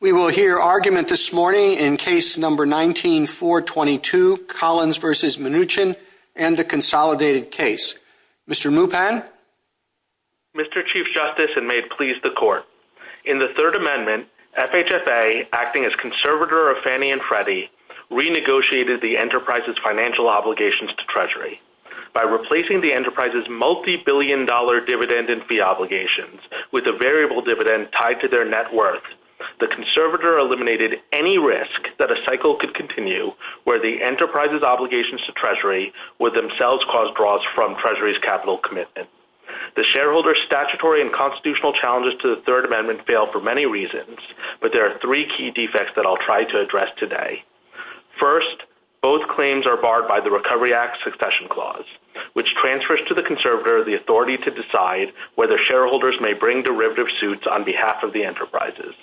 We will hear argument this morning in Case No. 19-422, Collins v. Mnuchin, and the Consolidated Case. Mr. Mupang? Mr. Chief Justice, and may it please the Court, in the Third Amendment, FHFA, acting as conservator of Fannie and Freddie, renegotiated the enterprise's financial obligations to Treasury. By replacing the enterprise's multibillion-dollar dividend and fee obligations with a variable dividend tied to their net worth, the conservator eliminated any risk that a cycle could continue where the enterprise's obligations to Treasury would themselves cause draws from Treasury's capital commitment. The shareholder's statutory and constitutional challenges to the Third Amendment fail for many reasons, but there are three key defects that I'll try to address today. First, both claims are barred by the Recovery Act Succession Clause, which transfers to the conservator the authority to decide whether shareholders may bring derivative suits on behalf of the enterprises.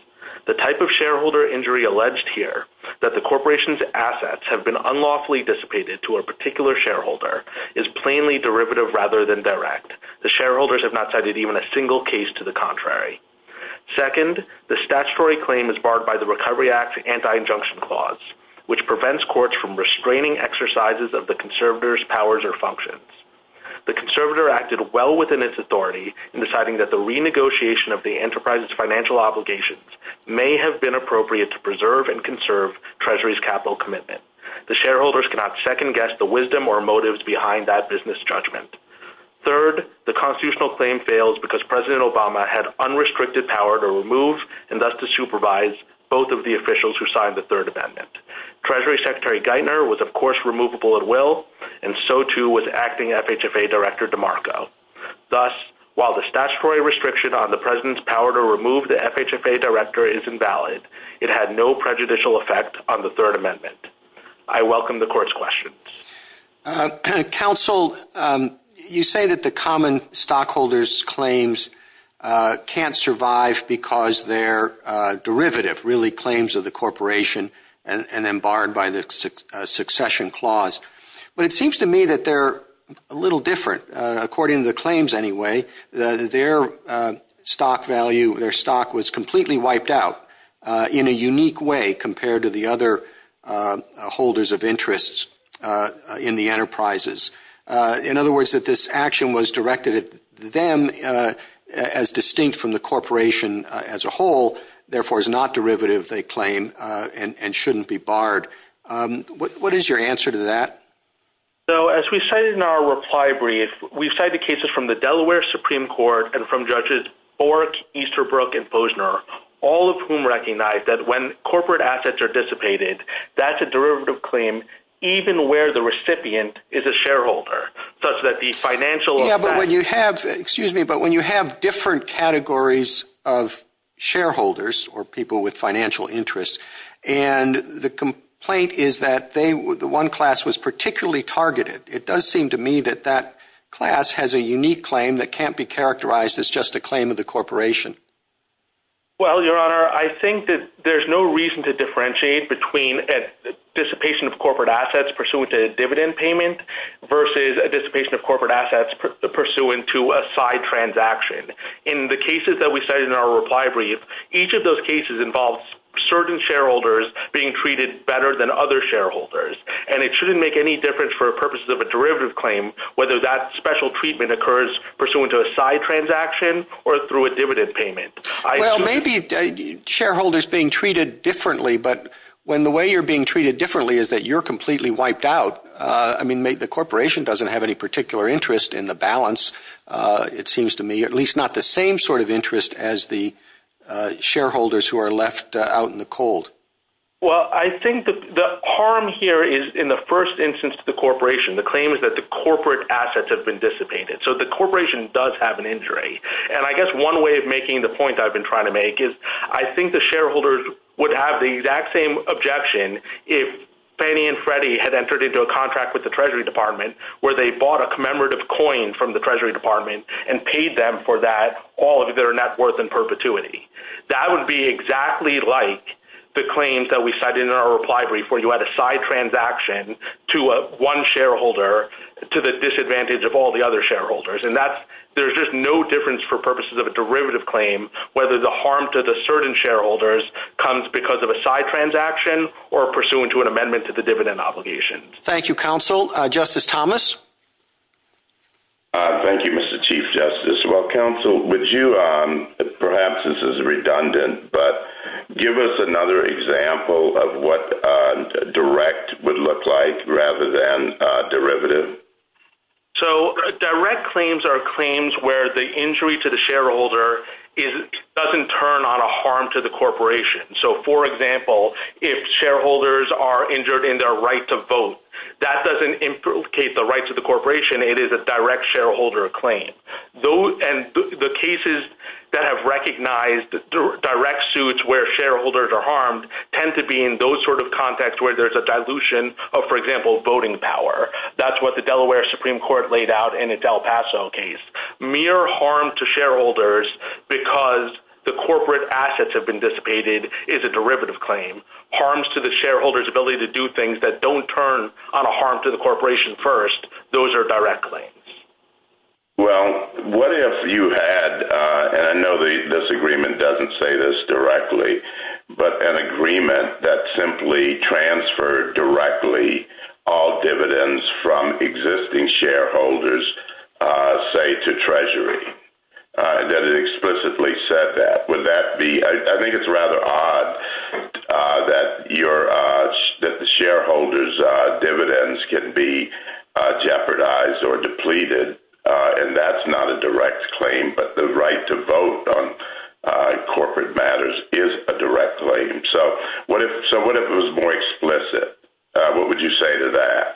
The type of shareholder injury alleged here, that the corporation's assets have been unlawfully dissipated to a particular shareholder, is plainly derivative rather than direct. The shareholders have not cited even a single case to the contrary. Second, the statutory claim is barred by the Recovery Act Anti-Injunction Clause, which prevents courts from restraining exercises of the conservator's powers or functions. The conservator acted well within its authority in deciding that the renegotiation of the enterprise's financial obligations may have been appropriate to preserve and conserve Treasury's capital commitment. The shareholders cannot second-guess the wisdom or motives behind that business judgment. Third, the constitutional claim fails because President Obama had unrestricted power to remove, and thus to supervise, both of the officials who signed the Third Amendment. Treasury Secretary Geithner was, of course, removable at will, and so too was acting FHFA Director DeMarco. Thus, while the statutory restriction on the President's power to remove the FHFA Director is invalid, it had no prejudicial effect on the Third Amendment. I welcome the Court's questions. Counsel, you say that the common stockholders' claims can't survive because they're derivative, really claims of the corporation, and then barred by the Succession Clause. But it seems to me that they're a little different. According to the claims, anyway, their stock value, their stock was completely wiped out in a unique way compared to the other holders of interests in the enterprises. In other words, that this action was directed at them as distinct from the corporation as a whole, therefore is not derivative, they claim, and shouldn't be barred. What is your answer to that? As we say in our reply brief, we cite the cases from the Delaware Supreme Court and from Judges Orrick, Easterbrook, and Foesner, all of whom recognize that when corporate assets are dissipated, that's a derivative claim, even where the recipient is a shareholder, such that the financial… Excuse me, but when you have different categories of shareholders, or people with financial interests, and the complaint is that the one class was particularly targeted, it does seem to me that that class has a unique claim that can't be characterized as just a claim of the corporation. Well, Your Honor, I think that there's no reason to differentiate between a dissipation of corporate assets pursuant to a dividend payment versus a dissipation of corporate assets pursuant to a side transaction. In the cases that we cite in our reply brief, each of those cases involves certain shareholders being treated better than other shareholders, and it shouldn't make any difference for purposes of a derivative claim whether that special treatment occurs pursuant to a side transaction or through a dividend payment. Well, maybe shareholders being treated differently, but when the way you're being treated differently is that you're completely wiped out. I mean, the corporation doesn't have any particular interest in the balance, it seems to me, at least not the same sort of interest as the shareholders who are left out in the cold. Well, I think the harm here is in the first instance to the corporation. The claim is that the corporate assets have been dissipated, so the corporation does have an injury. And I guess one way of making the point I've been trying to make is I think the shareholders would have the exact same objection if Fannie and Freddie had entered into a contract with the Treasury Department where they bought a commemorative coin from the Treasury Department and paid them for that, all of their net worth in perpetuity. That would be exactly like the claims that we cited in our reply brief where you had a side transaction to one shareholder to the disadvantage of all the other shareholders. And there's just no difference for purposes of a derivative claim whether the harm to the certain shareholders comes because of a side transaction or pursuant to an amendment to the dividend obligation. Thank you, counsel. Justice Thomas? Thank you, Mr. Chief Justice. Well, counsel, perhaps this is redundant, but give us another example of what direct would look like rather than derivative. So, direct claims are claims where the injury to the shareholder doesn't turn on a harm to the corporation. So, for example, if shareholders are injured in their right to vote, that doesn't implicate the rights of the corporation. It is a direct shareholder claim. And the cases that have recognized direct suits where shareholders are harmed tend to be in those sort of contexts where there's a dilution of, for example, voting power. That's what the Delaware Supreme Court laid out in its El Paso case. Mere harm to shareholders because the corporate assets have been dissipated is a derivative claim. Harms to the shareholders' ability to do things that don't turn on a harm to the corporation first, those are direct claims. Well, what if you had, and I know this agreement doesn't say this directly, but an agreement that simply transferred directly all dividends from existing shareholders, say, to Treasury? That it explicitly said that, would that be, I think it's rather odd that the shareholders' dividends can be jeopardized or depleted. And that's not a direct claim, but the right to vote on corporate matters is a direct claim. So, what if it was more explicit? What would you say to that?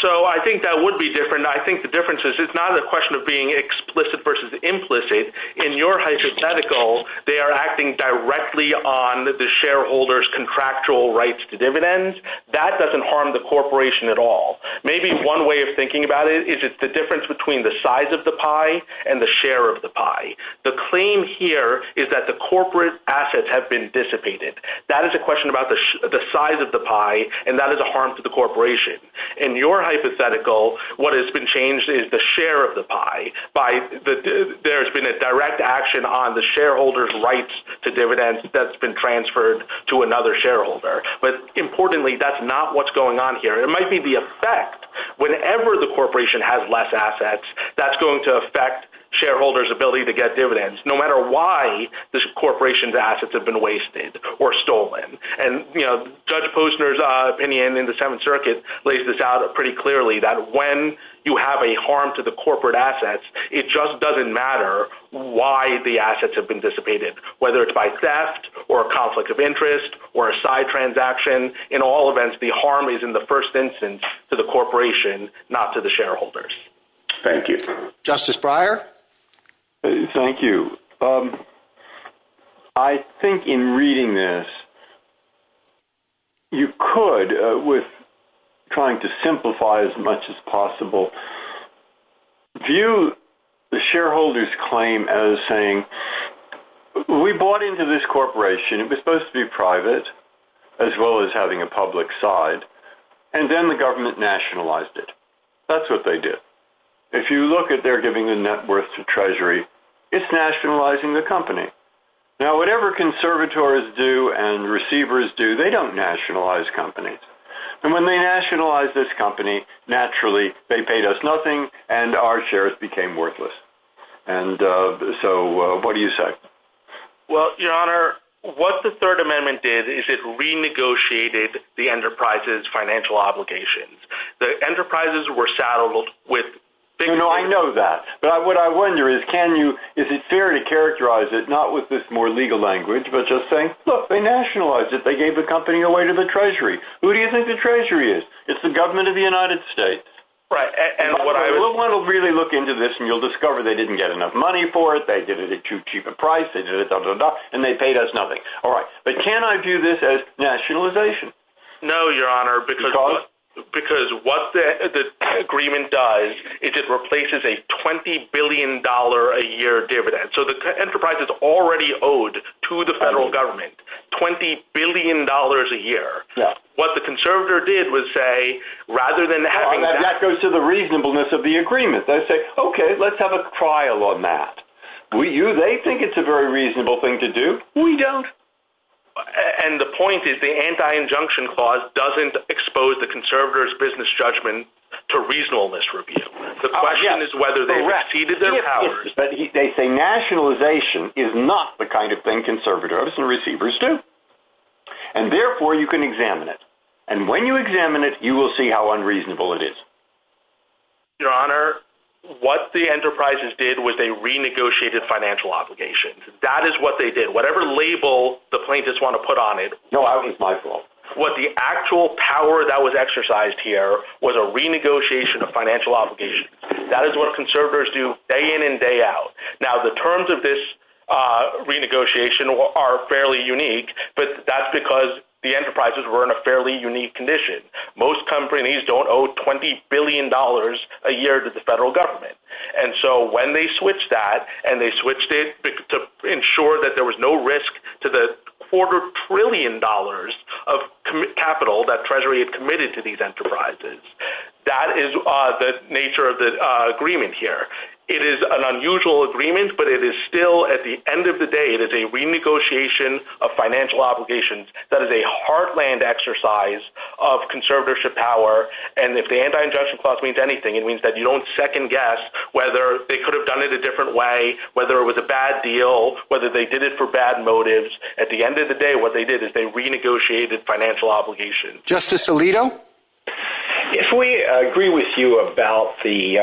So, I think that would be different. I think the difference is it's not a question of being explicit versus implicit. In your hypothetical, they are acting directly on the shareholders' contractual rights to dividends. That doesn't harm the corporation at all. Maybe one way of thinking about it is it's the difference between the size of the pie and the share of the pie. The claim here is that the corporate assets have been dissipated. That is a question about the size of the pie, and that is a harm to the corporation. In your hypothetical, what has been changed is the share of the pie. There's been a direct action on the shareholders' rights to dividends that's been transferred to another shareholder. But importantly, that's not what's going on here. It might be the effect. Whenever the corporation has less assets, that's going to affect shareholders' ability to get dividends. No matter why the corporation's assets have been wasted or stolen. And Judge Posner's opinion in the Seventh Circuit lays this out pretty clearly, that when you have a harm to the corporate assets, it just doesn't matter why the assets have been dissipated, whether it's by theft or a conflict of interest or a side transaction. In all events, the harm is in the first instance to the corporation, not to the shareholders. Thank you. Justice Breyer? Thank you. I think in reading this, you could, with trying to simplify as much as possible, view the shareholders' claim as saying, we bought into this corporation. It was supposed to be private, as well as having a public side. And then the government nationalized it. That's what they did. If you look at their giving the net worth to Treasury, it's nationalizing the company. Now, whatever conservators do and receivers do, they don't nationalize companies. And when they nationalized this company, naturally, they paid us nothing and our shares became worthless. And so, what do you say? Well, Your Honor, what the Third Amendment did is it renegotiated the enterprise's financial obligations. The enterprises were saddled with – I know that. But what I wonder is, can you – is it fair to characterize it, not with this more legal language, but just saying, look, they nationalized it. They gave the company away to the Treasury. Who do you think the Treasury is? It's the government of the United States. Right. And what I – We'll really look into this, and you'll discover they didn't get enough money for it. They did it at too cheap a price. They did it – and they paid us nothing. All right. But can I view this as nationalization? No, Your Honor, because – Because what the agreement does is it replaces a $20 billion a year dividend. So, the enterprise is already owed to the federal government $20 billion a year. What the conservator did was say, rather than having – That goes to the reasonableness of the agreement. They say, okay, let's have a trial on that. Do you think it's a very reasonable thing to do? We don't. And the point is the anti-injunction clause doesn't expose the conservators' business judgment to reasonableness review. The question is whether they exceeded their powers. They say nationalization is not the kind of thing conservators and receivers do. And therefore, you can examine it. And when you examine it, you will see how unreasonable it is. Your Honor, what the enterprises did was they renegotiated financial obligations. That is what they did. Whatever label the plaintiffs want to put on it – No, I don't think it's my fault. What the actual power that was exercised here was a renegotiation of financial obligations. That is what conservators do day in and day out. Now, the terms of this renegotiation are fairly unique, but that's because the enterprises were in a fairly unique condition. Most companies don't owe $20 billion a year to the federal government. And so when they switched that and they switched it to ensure that there was no risk to the quarter trillion dollars of capital that Treasury had committed to these enterprises, that is the nature of the agreement here. It is an unusual agreement, but it is still, at the end of the day, it is a renegotiation of financial obligations that is a heartland exercise of conservatorship power. And if the anti-ingestion clause means anything, it means that you don't second guess whether they could have done it a different way, whether it was a bad deal, whether they did it for bad motives. At the end of the day, what they did is they renegotiated financial obligations. Justice Alito? If we agree with you about the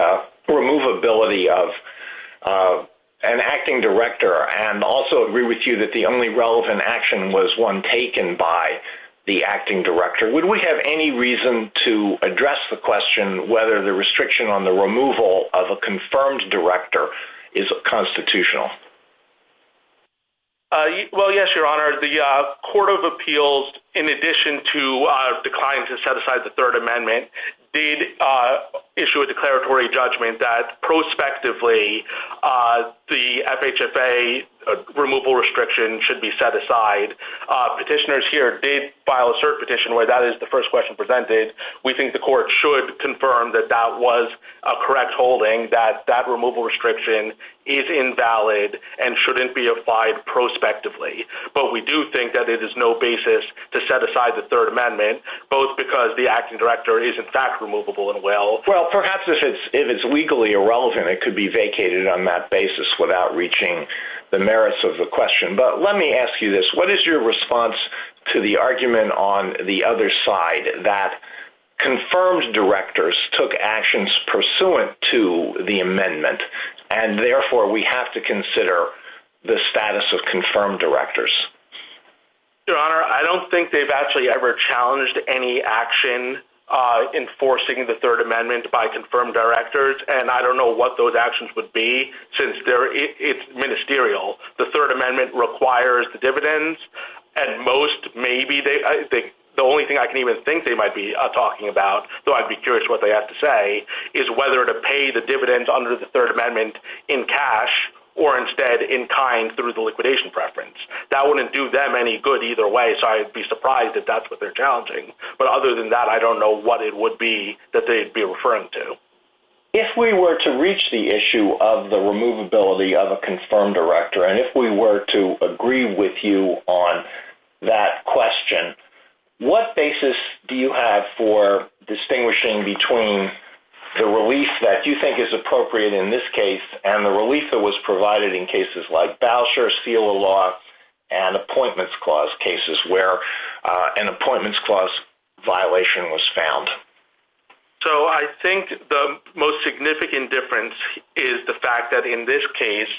removability of an acting director and also agree with you that the only relevant action was one taken by the acting director, would we have any reason to address the question whether the restriction on the removal of a confirmed director is constitutional? Well, yes, Your Honor. The Court of Appeals, in addition to declining to set aside the Third Amendment, did issue a declaratory judgment that prospectively the FHFA removal restriction should be set aside. Petitioners here did file a cert petition where that is the first question presented. We think the Court should confirm that that was a correct holding, that that removal restriction is invalid and shouldn't be applied prospectively. But we do think that it is no basis to set aside the Third Amendment, both because the acting director is, in fact, removable and will. Well, perhaps if it's legally irrelevant, it could be vacated on that basis without reaching the merits of the question. But let me ask you this. What is your response to the argument on the other side that confirmed directors took actions pursuant to the amendment, and therefore we have to consider the status of confirmed directors? Your Honor, I don't think they've actually ever challenged any action enforcing the Third Amendment by confirmed directors. And I don't know what those actions would be since it's ministerial. The Third Amendment requires the dividends. And most, maybe, the only thing I can even think they might be talking about, though I'd be curious what they have to say, is whether to pay the dividends under the Third Amendment in cash or instead in kind through the liquidation preference. That wouldn't do them any good either way, so I'd be surprised if that's what they're challenging. But other than that, I don't know what it would be that they'd be referring to. If we were to reach the issue of the removability of a confirmed director, and if we were to agree with you on that question, what basis do you have for distinguishing between the release that you think is appropriate in this case and the release that was provided in cases like Bowser's seal of law and appointments clause cases where an appointments clause violation was found? So I think the most significant difference is the fact that in this case,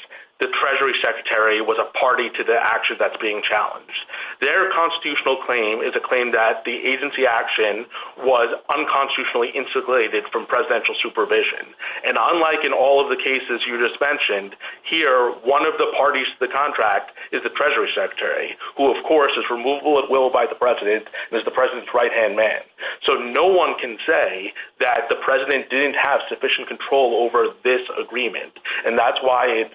the Treasury Secretary was a party to the action that's being challenged. Their constitutional claim is a claim that the agency action was unconstitutionally insulated from presidential supervision. And unlike in all of the cases you just mentioned, here, one of the parties to the contract is the Treasury Secretary, who, of course, is removable at will by the president and is the president's right-hand man. So no one can say that the president didn't have sufficient control over this agreement. And that's why,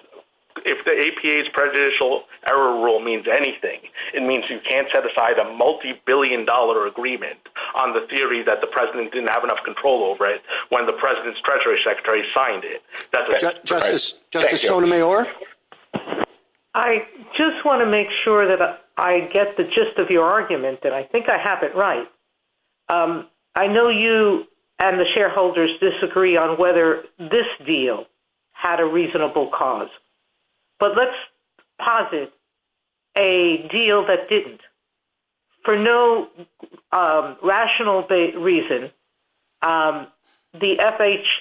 if the APA's prejudicial error rule means anything, it means you can't set aside a multibillion-dollar agreement on the theory that the president didn't have enough control over it when the president's Treasury Secretary signed it. Thank you. Justice Sotomayor? I just want to make sure that I get the gist of your argument, that I think I have it right. I know you and the shareholders disagree on whether this deal had a reasonable cause, but let's posit a deal that didn't. For no rational reason, the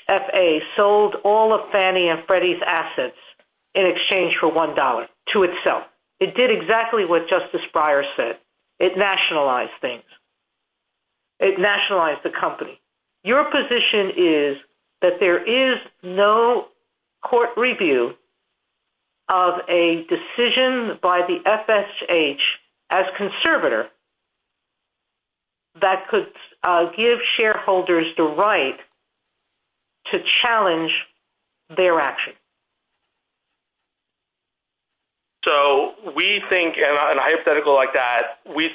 FHFA sold all of Fannie and Freddie's assets in exchange for $1 to itself. It did exactly what Justice Breyer said. It nationalized things. It nationalized the company. Your position is that there is no court review of a decision by the FSH as conservator that could give shareholders the right to challenge their action. So we think, in a hypothetical like that, we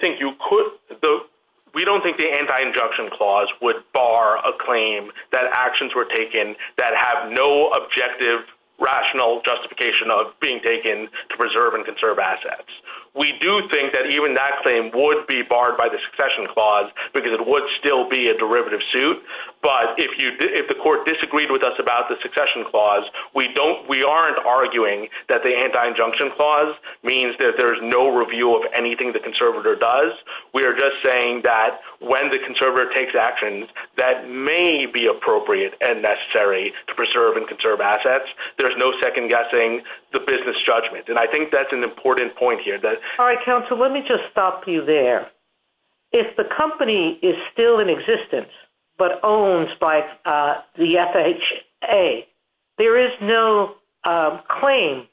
don't think the anti-injunction clause would bar a claim that actions were taken that have no objective, rational justification of being taken to preserve and conserve assets. We do think that even that claim would be barred by the succession clause because it would still be a derivative suit. But if the court disagreed with us about the succession clause, we aren't arguing that the anti-injunction clause means that there's no review of anything the conservator does. We are just saying that when the conservator takes actions that may be appropriate and necessary to preserve and conserve assets, there's no second-guessing the business judgment. And I think that's an important point here. All right, counsel, let me just stop you there. If the company is still in existence but owns by the FHA, there is no claim.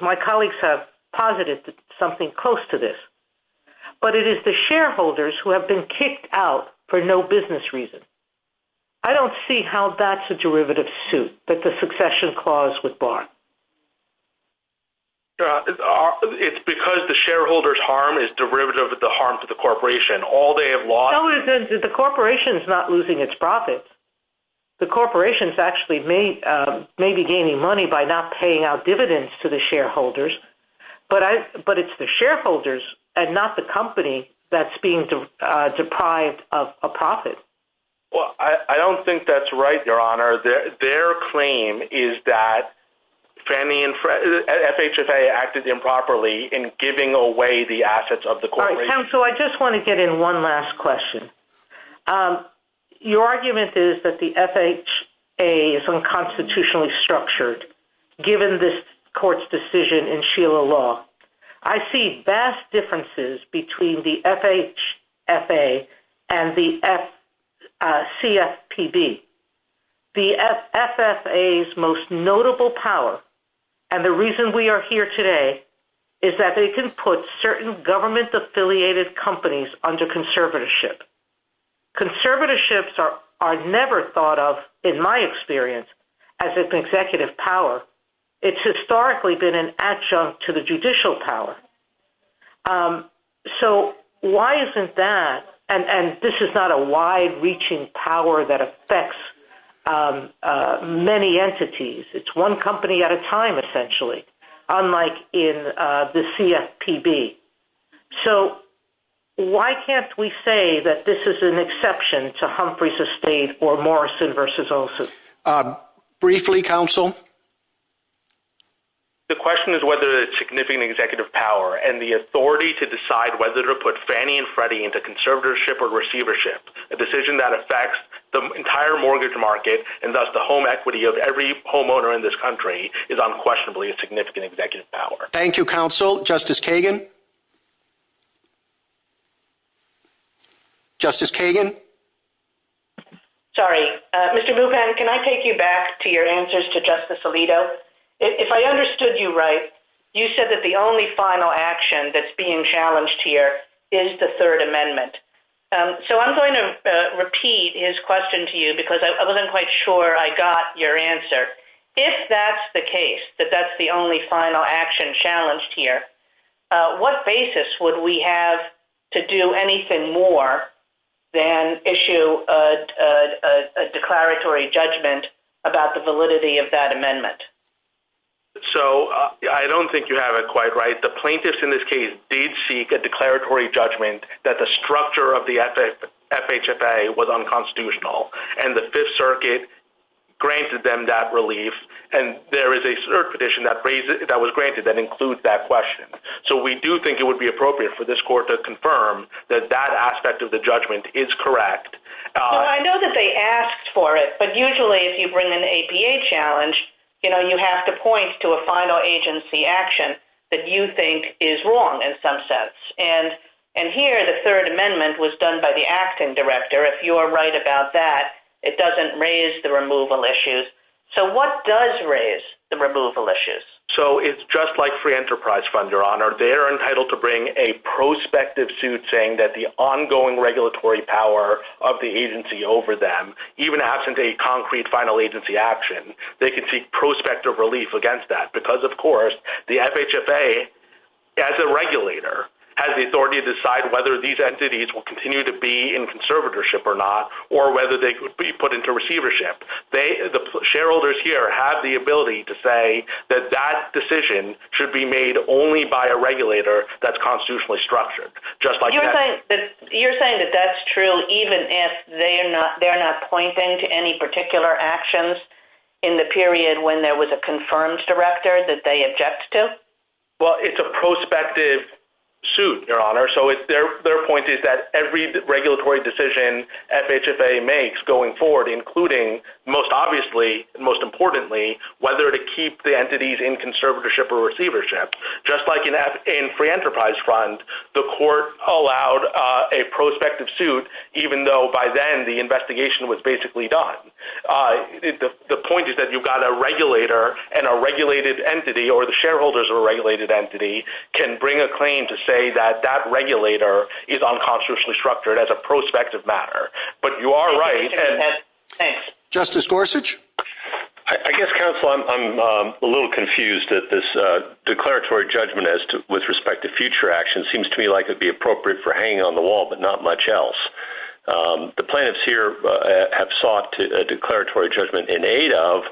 My colleagues have posited something close to this. But it is the shareholders who have been kicked out for no business reason. I don't see how that's a derivative suit that the succession clause would bar. It's because the shareholder's harm is derivative of the harm to the corporation. The corporation is not losing its profits. The corporation is actually maybe gaining money by not paying out dividends to the shareholders. But it's the shareholders and not the company that's being deprived of profit. I don't think that's right, Your Honor. Their claim is that FHA acted improperly in giving away the assets of the corporation. All right, counsel, I just want to get in one last question. Your argument is that the FHA is unconstitutionally structured given this court's decision in Sheila Law. I see vast differences between the FHA and the CFPB. The FHA's most notable power, and the reason we are here today, is that they can put certain government-affiliated companies under conservatorship. Conservatorships are never thought of, in my experience, as an executive power. It's historically been an adjunct to the judicial power. So why isn't that, and this is not a wide-reaching power that affects many entities. It's one company at a time, essentially, unlike in the CFPB. So why can't we say that this is an exception to Humphrey's estate or Morrison v. Olson? Briefly, counsel. The question is whether it's a significant executive power, and the authority to decide whether to put Fannie and Freddie into conservatorship or receivership, a decision that affects the entire mortgage market, and thus the home equity of every homeowner in this country, is unquestionably a significant executive power. Thank you, counsel. Justice Kagan? Justice Kagan? Sorry. Mr. Bupan, can I take you back to your answers to Justice Alito? If I understood you right, you said that the only final action that's being challenged here is the Third Amendment. So I'm going to repeat his question to you, because I wasn't quite sure I got your answer. If that's the case, that that's the only final action challenged here, what basis would we have to do anything more than issue a declaratory judgment about the validity of that amendment? So I don't think you have it quite right. The plaintiffs in this case did seek a declaratory judgment that the structure of the FHFA was unconstitutional, and the Fifth Circuit granted them that relief, and there is a cert petition that was granted that includes that question. So we do think it would be appropriate for this court to confirm that that aspect of the judgment is correct. I know that they asked for it, but usually if you bring an APA challenge, you have to point to a final agency action that you think is wrong in some sense. And here, the Third Amendment was done by the acting director. If you are right about that, it doesn't raise the removal issues. So what does raise the removal issues? So it's just like Free Enterprise Fund, Your Honor. They're entitled to bring a prospective suit saying that the ongoing regulatory power of the agency over them, even absent a concrete final agency action, they can seek prospective relief against that. Because, of course, the FHFA, as a regulator, has the authority to decide whether these entities will continue to be in conservatorship or not, or whether they could be put into receivership. The shareholders here have the ability to say that that decision should be made only by a regulator that's constitutionally structured. You're saying that that's true even if they're not pointing to any particular actions in the period when there was a confirmed director that they objected to? Well, it's a prospective suit, Your Honor. So their point is that every regulatory decision FHFA makes going forward, including, most obviously, most importantly, whether to keep the entities in conservatorship or receivership. Just like in Free Enterprise Fund, the court allowed a prospective suit even though, by then, the investigation was basically done. The point is that you've got a regulator and a regulated entity, or the shareholders of a regulated entity, can bring a claim to say that that regulator is unconstitutionally structured as a prospective matter. But you are right. Justice Gorsuch? I guess, counsel, I'm a little confused that this declaratory judgment with respect to future actions seems to me like it would be appropriate for hanging on the wall, but not much else. The plaintiffs here have sought a declaratory judgment in aid of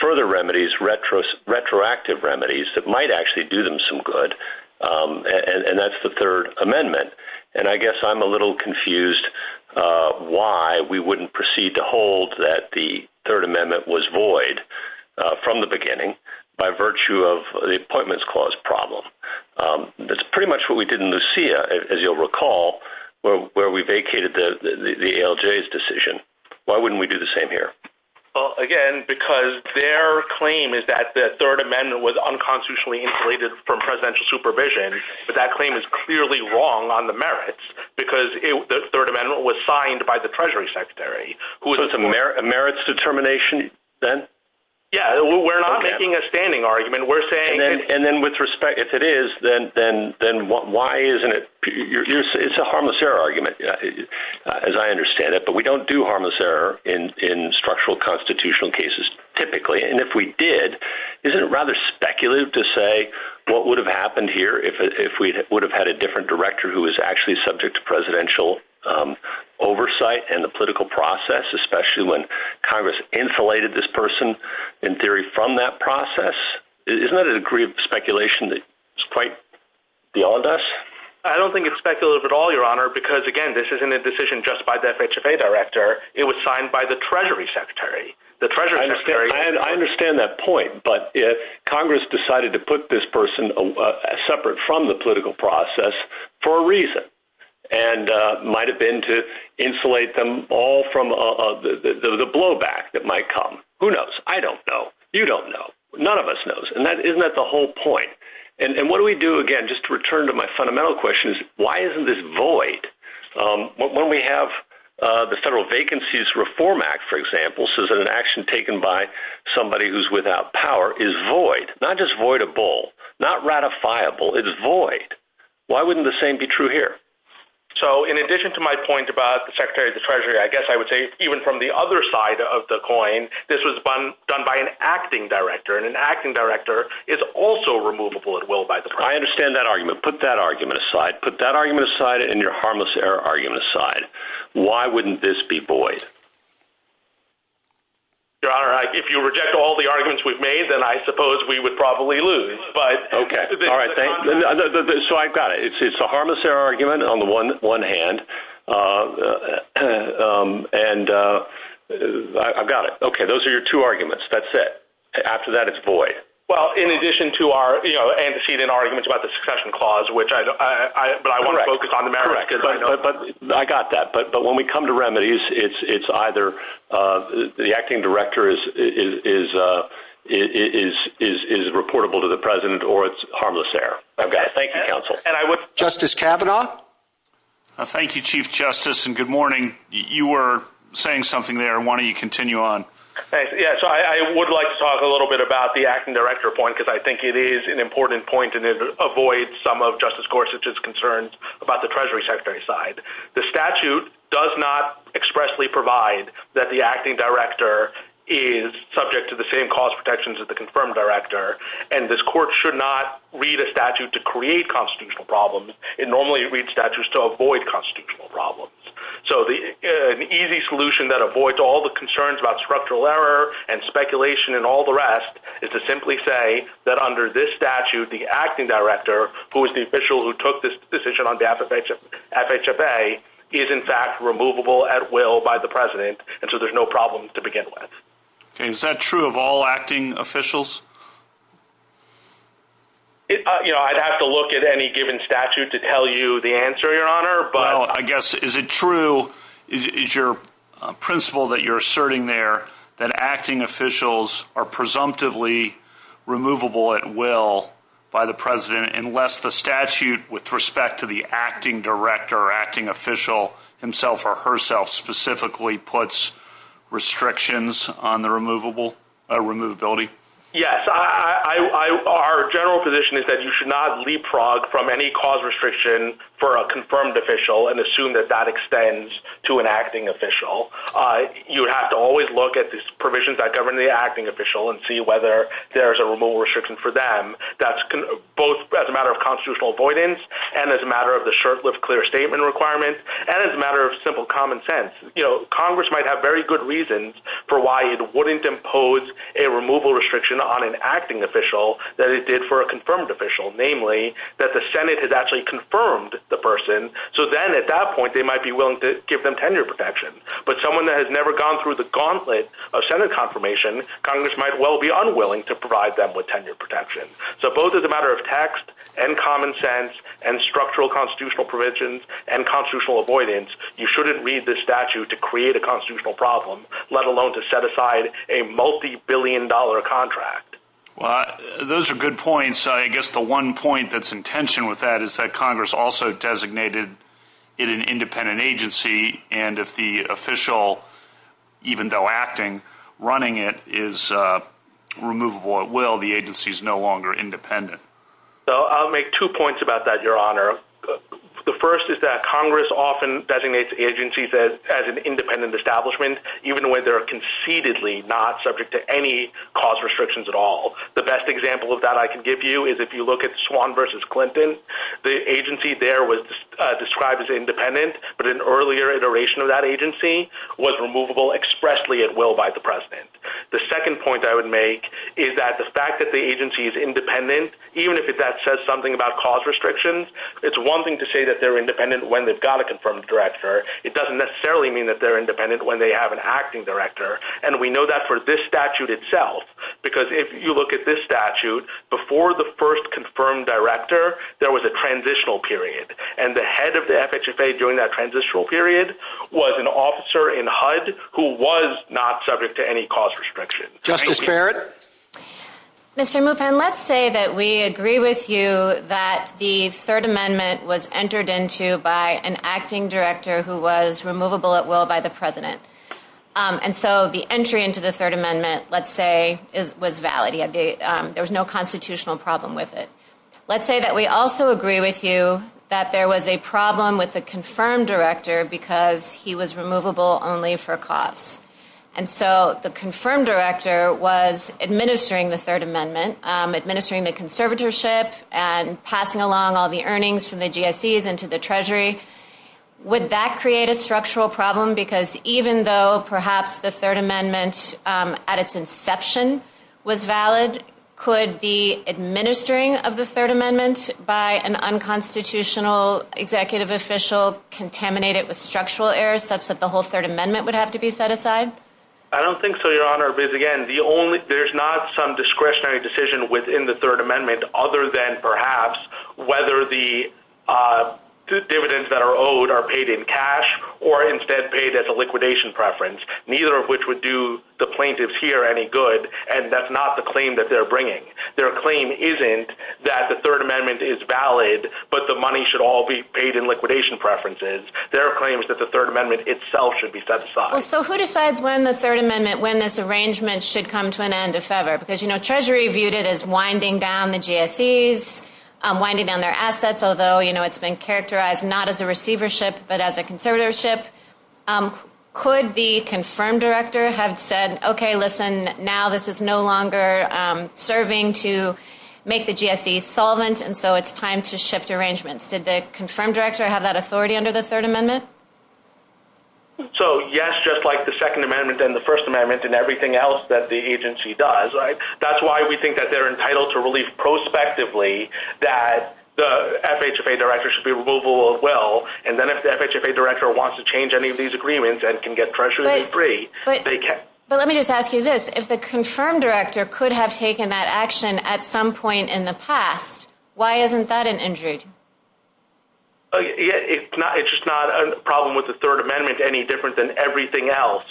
further remedies, retroactive remedies that might actually do them some good, and that's the Third Amendment. And I guess I'm a little confused why we wouldn't proceed to hold that the Third Amendment was void from the beginning by virtue of the Appointments Clause problem. That's pretty much what we did in the CIA, as you'll recall, where we vacated the ALJ's decision. Why wouldn't we do the same here? Well, again, because their claim is that the Third Amendment was unconstitutionally inflated from presidential supervision. But that claim is clearly wrong on the merits, because the Third Amendment was signed by the Treasury Secretary. So it's a merits determination then? Yeah, we're not making a standing argument. And then with respect, if it is, then why isn't it? It's a harmless error argument, as I understand it, but we don't do harmless error in structural constitutional cases, typically. And if we did, isn't it rather speculative to say what would have happened here if we would have had a different director who was actually subject to presidential oversight and the political process, especially when Congress insulated this person, in theory, from that process? Isn't that a degree of speculation that's quite beyond us? I don't think it's speculative at all, Your Honor, because, again, this isn't a decision just by the FHFA director. It was signed by the Treasury Secretary. I understand that point, but if Congress decided to put this person separate from the political process for a reason and might have been to insulate them all from the blowback that might come, who knows? I don't know. You don't know. None of us knows, and isn't that the whole point? And what do we do, again, just to return to my fundamental question, is why isn't this void? When we have the Federal Vacancies Reform Act, for example, says that an action taken by somebody who's without power is void, not just voidable, not ratifiable. It is void. Why wouldn't the same be true here? So, in addition to my point about the Secretary of the Treasury, I guess I would say even from the other side of the coin, this was done by an acting director, and an acting director is also removable at will by the Congress. I understand that argument. Put that argument aside. Put that argument aside and your harmless error argument aside. Why wouldn't this be void? Your Honor, if you reject all the arguments we've made, then I suppose we would probably lose. Okay. All right. So, I got it. It's a harmless error argument on the one hand, and I've got it. Okay. Those are your two arguments. That's it. After that, it's void. Well, in addition to our antecedent arguments about the succession clause, but I want to focus on the merits. Correct. I got that. But when we come to remedies, it's either the acting director is reportable to the President or it's harmless error. I've got it. Thank you, counsel. Justice Kavanaugh? Thank you, Chief Justice, and good morning. You were saying something there. Why don't you continue on? Yes. I would like to talk a little bit about the acting director point because I think it is an important point, and it avoids some of Justice Gorsuch's concerns about the Treasury Secretary's side. The statute does not expressly provide that the acting director is subject to the same cost protections as the confirmed director, and this court should not read a statute to create constitutional problems. It normally reads statutes to avoid constitutional problems. So, an easy solution that avoids all the concerns about structural error and speculation and all the rest is to simply say that under this statute, the acting director, who is the official who took this decision on behalf of FHFA, is, in fact, removable at will by the President, and so there's no problem to begin with. Okay. Is that true of all acting officials? You know, I'd have to look at any given statute to tell you the answer, Your Honor. Well, I guess, is it true, is your principle that you're asserting there that acting officials are presumptively removable at will by the President, unless the statute, with respect to the acting director or acting official himself or herself, specifically puts restrictions on the removability? Yes. Our general position is that you should not leapfrog from any cause restriction for a confirmed official and assume that that extends to an acting official. You would have to always look at the provisions that govern the acting official and see whether there's a removal restriction for them, both as a matter of constitutional avoidance and as a matter of the short-lived clear statement requirement and as a matter of simple common sense. You know, Congress might have very good reasons for why it wouldn't impose a removal restriction on an acting official than it did for a confirmed official, namely that the Senate has actually confirmed the person, so then at that point they might be willing to give them tenure protection. But someone that has never gone through the gauntlet of Senate confirmation, Congress might well be unwilling to provide them with tenure protection. So both as a matter of text and common sense and structural constitutional provisions and constitutional avoidance, you shouldn't read the statute to create a constitutional problem, let alone to set aside a multibillion-dollar contract. Those are good points. I guess the one point that's in tension with that is that Congress also designated it an independent agency, and if the official, even though acting, running it is removable at will, the agency is no longer independent. I'll make two points about that, Your Honor. The first is that Congress often designates agencies as an independent establishment, even when they're concededly not subject to any cause restrictions at all. The best example of that I can give you is if you look at Swan v. Clinton. The agency there was described as independent, but an earlier iteration of that agency was removable expressly at will by the president. The second point I would make is that the fact that the agency is independent, even if that says something about cause restrictions, it's one thing to say that they're independent when they've got a confirmed director. It doesn't necessarily mean that they're independent when they have an acting director, and we know that for this statute itself, because if you look at this statute, before the first confirmed director, there was a transitional period, and the head of the FHFA during that transitional period was an officer in HUD who was not subject to any cause restriction. Justice Barrett? Mr. Mouton, let's say that we agree with you that the Third Amendment was entered into by an acting director who was removable at will by the president, and so the entry into the Third Amendment, let's say, was valid. There was no constitutional problem with it. Let's say that we also agree with you that there was a problem with the confirmed director because he was removable only for cause, and so the confirmed director was administering the Third Amendment, administering the conservatorship and passing along all the earnings from the GICs into the Treasury. Would that create a structural problem? Because even though perhaps the Third Amendment at its inception was valid, could the administering of the Third Amendment by an unconstitutional executive official contaminate it with structural errors such that the whole Third Amendment would have to be set aside? I don't think so, Your Honor, because, again, there's not some discretionary decision within the Third Amendment other than perhaps whether the dividends that are owed are paid in cash or instead paid as a liquidation preference, neither of which would do the plaintiffs here any good, and that's not the claim that they're bringing. Their claim isn't that the Third Amendment is valid, but the money should all be paid in liquidation preferences. Their claim is that the Third Amendment itself should be set aside. So who decides when the Third Amendment, when this arrangement should come to an end, if ever? Because Treasury viewed it as winding down the GSEs, winding down their assets, although it's been characterized not as a receivership but as a conservatorship. Could the confirmed director have said, okay, listen, now this is no longer serving to make the GSE solvent, and so it's time to shift arrangements? Did the confirmed director have that authority under the Third Amendment? So, yes, just like the Second Amendment and the First Amendment and everything else that the agency does, right? That's why we think that they're entitled to relief prospectively, that the FHA director should be removable as well, and then if the FHA director wants to change any of these agreements and can get Treasury free, they can. But let me just ask you this. If the confirmed director could have taken that action at some point in the past, why isn't that an injury? It's just not a problem with the Third Amendment any different than everything else,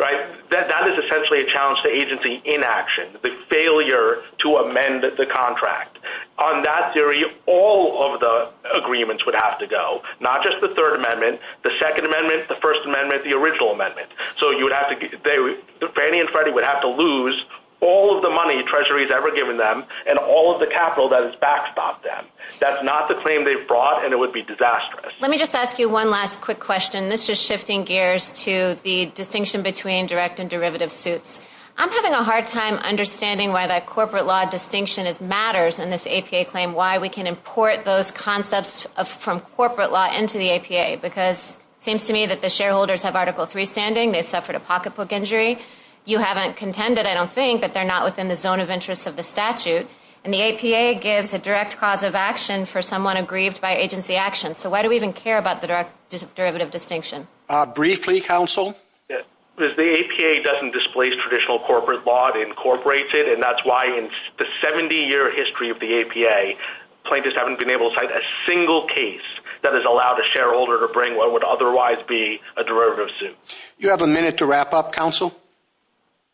right? That is essentially a challenge to agency inaction, the failure to amend the contract. On that theory, all of the agreements would have to go, not just the Third Amendment, the Second Amendment, the First Amendment, the original amendment. Fannie and Freddie would have to lose all of the money Treasury has ever given them and all of the capital that has backstopped them. That's not the claim they've brought, and it would be disastrous. Let me just ask you one last quick question. This is shifting gears to the distinction between direct and derivative suits. I'm having a hard time understanding why that corporate law distinction matters in this APA claim, why we can import those concepts from corporate law into the APA, because it seems to me that the shareholders have Article III standing. They suffered a pocketbook injury. You haven't contended, I don't think, that they're not within the zone of interest of the statute, and the APA gives a direct cause of action for someone aggrieved by agency action. So why do we even care about the derivative distinction? Briefly, counsel? The APA doesn't displace traditional corporate law. It incorporates it, and that's why in the 70-year history of the APA, plaintiffs haven't been able to cite a single case that has allowed a shareholder to bring what would otherwise be a derivative suit. Do you have a minute to wrap up, counsel?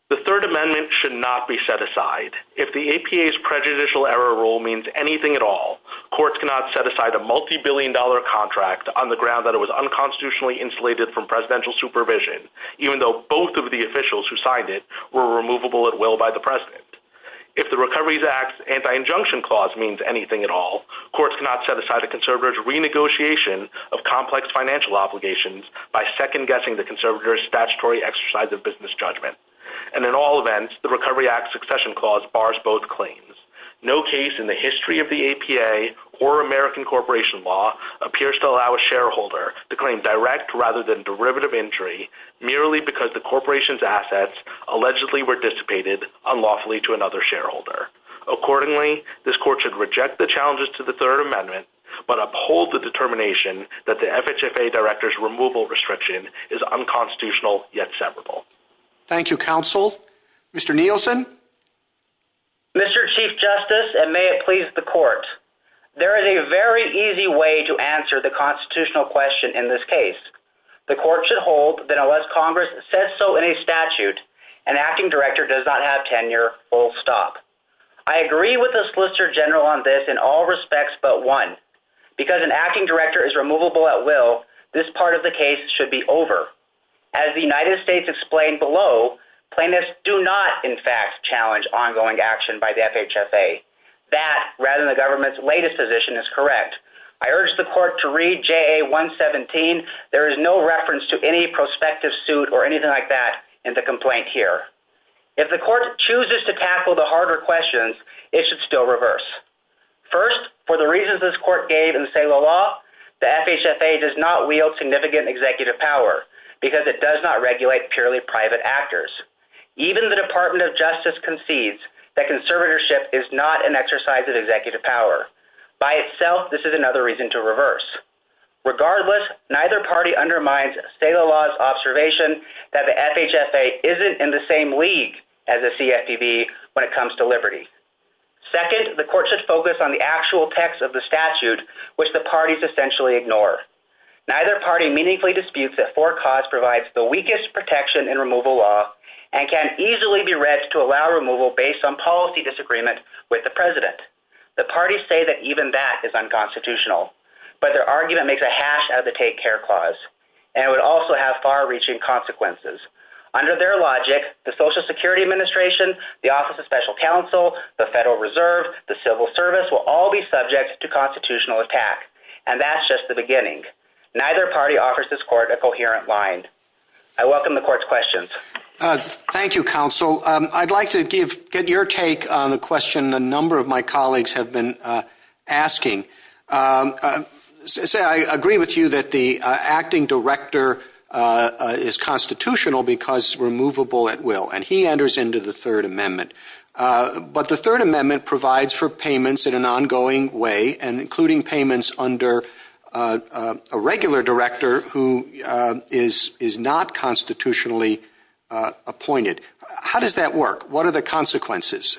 The Third Amendment should not be set aside. If the APA's prejudicial error rule means anything at all, courts cannot set aside a multibillion-dollar contract on the ground that it was unconstitutionally insulated from presidential supervision, even though both of the officials who signed it were removable at will by the president. If the Recovery Act's anti-injunction clause means anything at all, courts cannot set aside a conservator's renegotiation of complex financial obligations by second-guessing the conservator's statutory exercise of business judgment. And in all events, the Recovery Act's succession clause bars both claims. No case in the history of the APA or American corporation law appears to allow a shareholder to claim direct rather than derivative entry merely because the corporation's assets allegedly were dissipated unlawfully to another shareholder. Accordingly, this Court should reject the challenges to the Third Amendment but uphold the determination that the FHFA Director's removal restriction is unconstitutional yet severable. Thank you, counsel. Mr. Nielsen? Mr. Chief Justice, and may it please the Court, there is a very easy way to answer the constitutional question in this case. The Court should hold that unless Congress says so in a statute, an Acting Director does not have tenure, full stop. I agree with the Solicitor General on this in all respects but one. Because an Acting Director is removable at will, this part of the case should be over. As the United States explained below, plaintiffs do not, in fact, challenge ongoing action by the FHFA. That, rather than the government's latest position, is correct. I urge the Court to read JA 117. There is no reference to any prospective suit or anything like that in the complaint here. If the Court chooses to tackle the harder questions, it should still reverse. First, for the reasons this Court gave in the sale of law, the FHFA does not wield significant executive power because it does not regulate purely private actors. Even the Department of Justice concedes that conservatorship is not an exercise of executive power. By itself, this is another reason to reverse. Regardless, neither party undermines state of the law's observation that the FHFA isn't in the same league as the CFPB when it comes to liberty. Second, the Court should focus on the actual text of the statute, which the parties essentially ignore. Neither party meaningfully disputes that for cause provides the weakest protection in removal law and can easily be read to allow removal based on policy disagreement with the President. The parties say that even that is unconstitutional, but their argument makes a hash out of the Take Care Clause, and it would also have far-reaching consequences. Under their logic, the Social Security Administration, the Office of Special Counsel, the Federal Reserve, the Civil Service will all be subject to constitutional attack, and that's just the beginning. Neither party offers this Court a coherent mind. I welcome the Court's questions. Thank you, Counsel. I'd like to get your take on the question a number of my colleagues have been asking. I agree with you that the acting director is constitutional because it's removable at will, and he enters into the Third Amendment. But the Third Amendment provides for payments in an ongoing way, and including payments under a regular director who is not constitutionally appointed. How does that work? What are the consequences,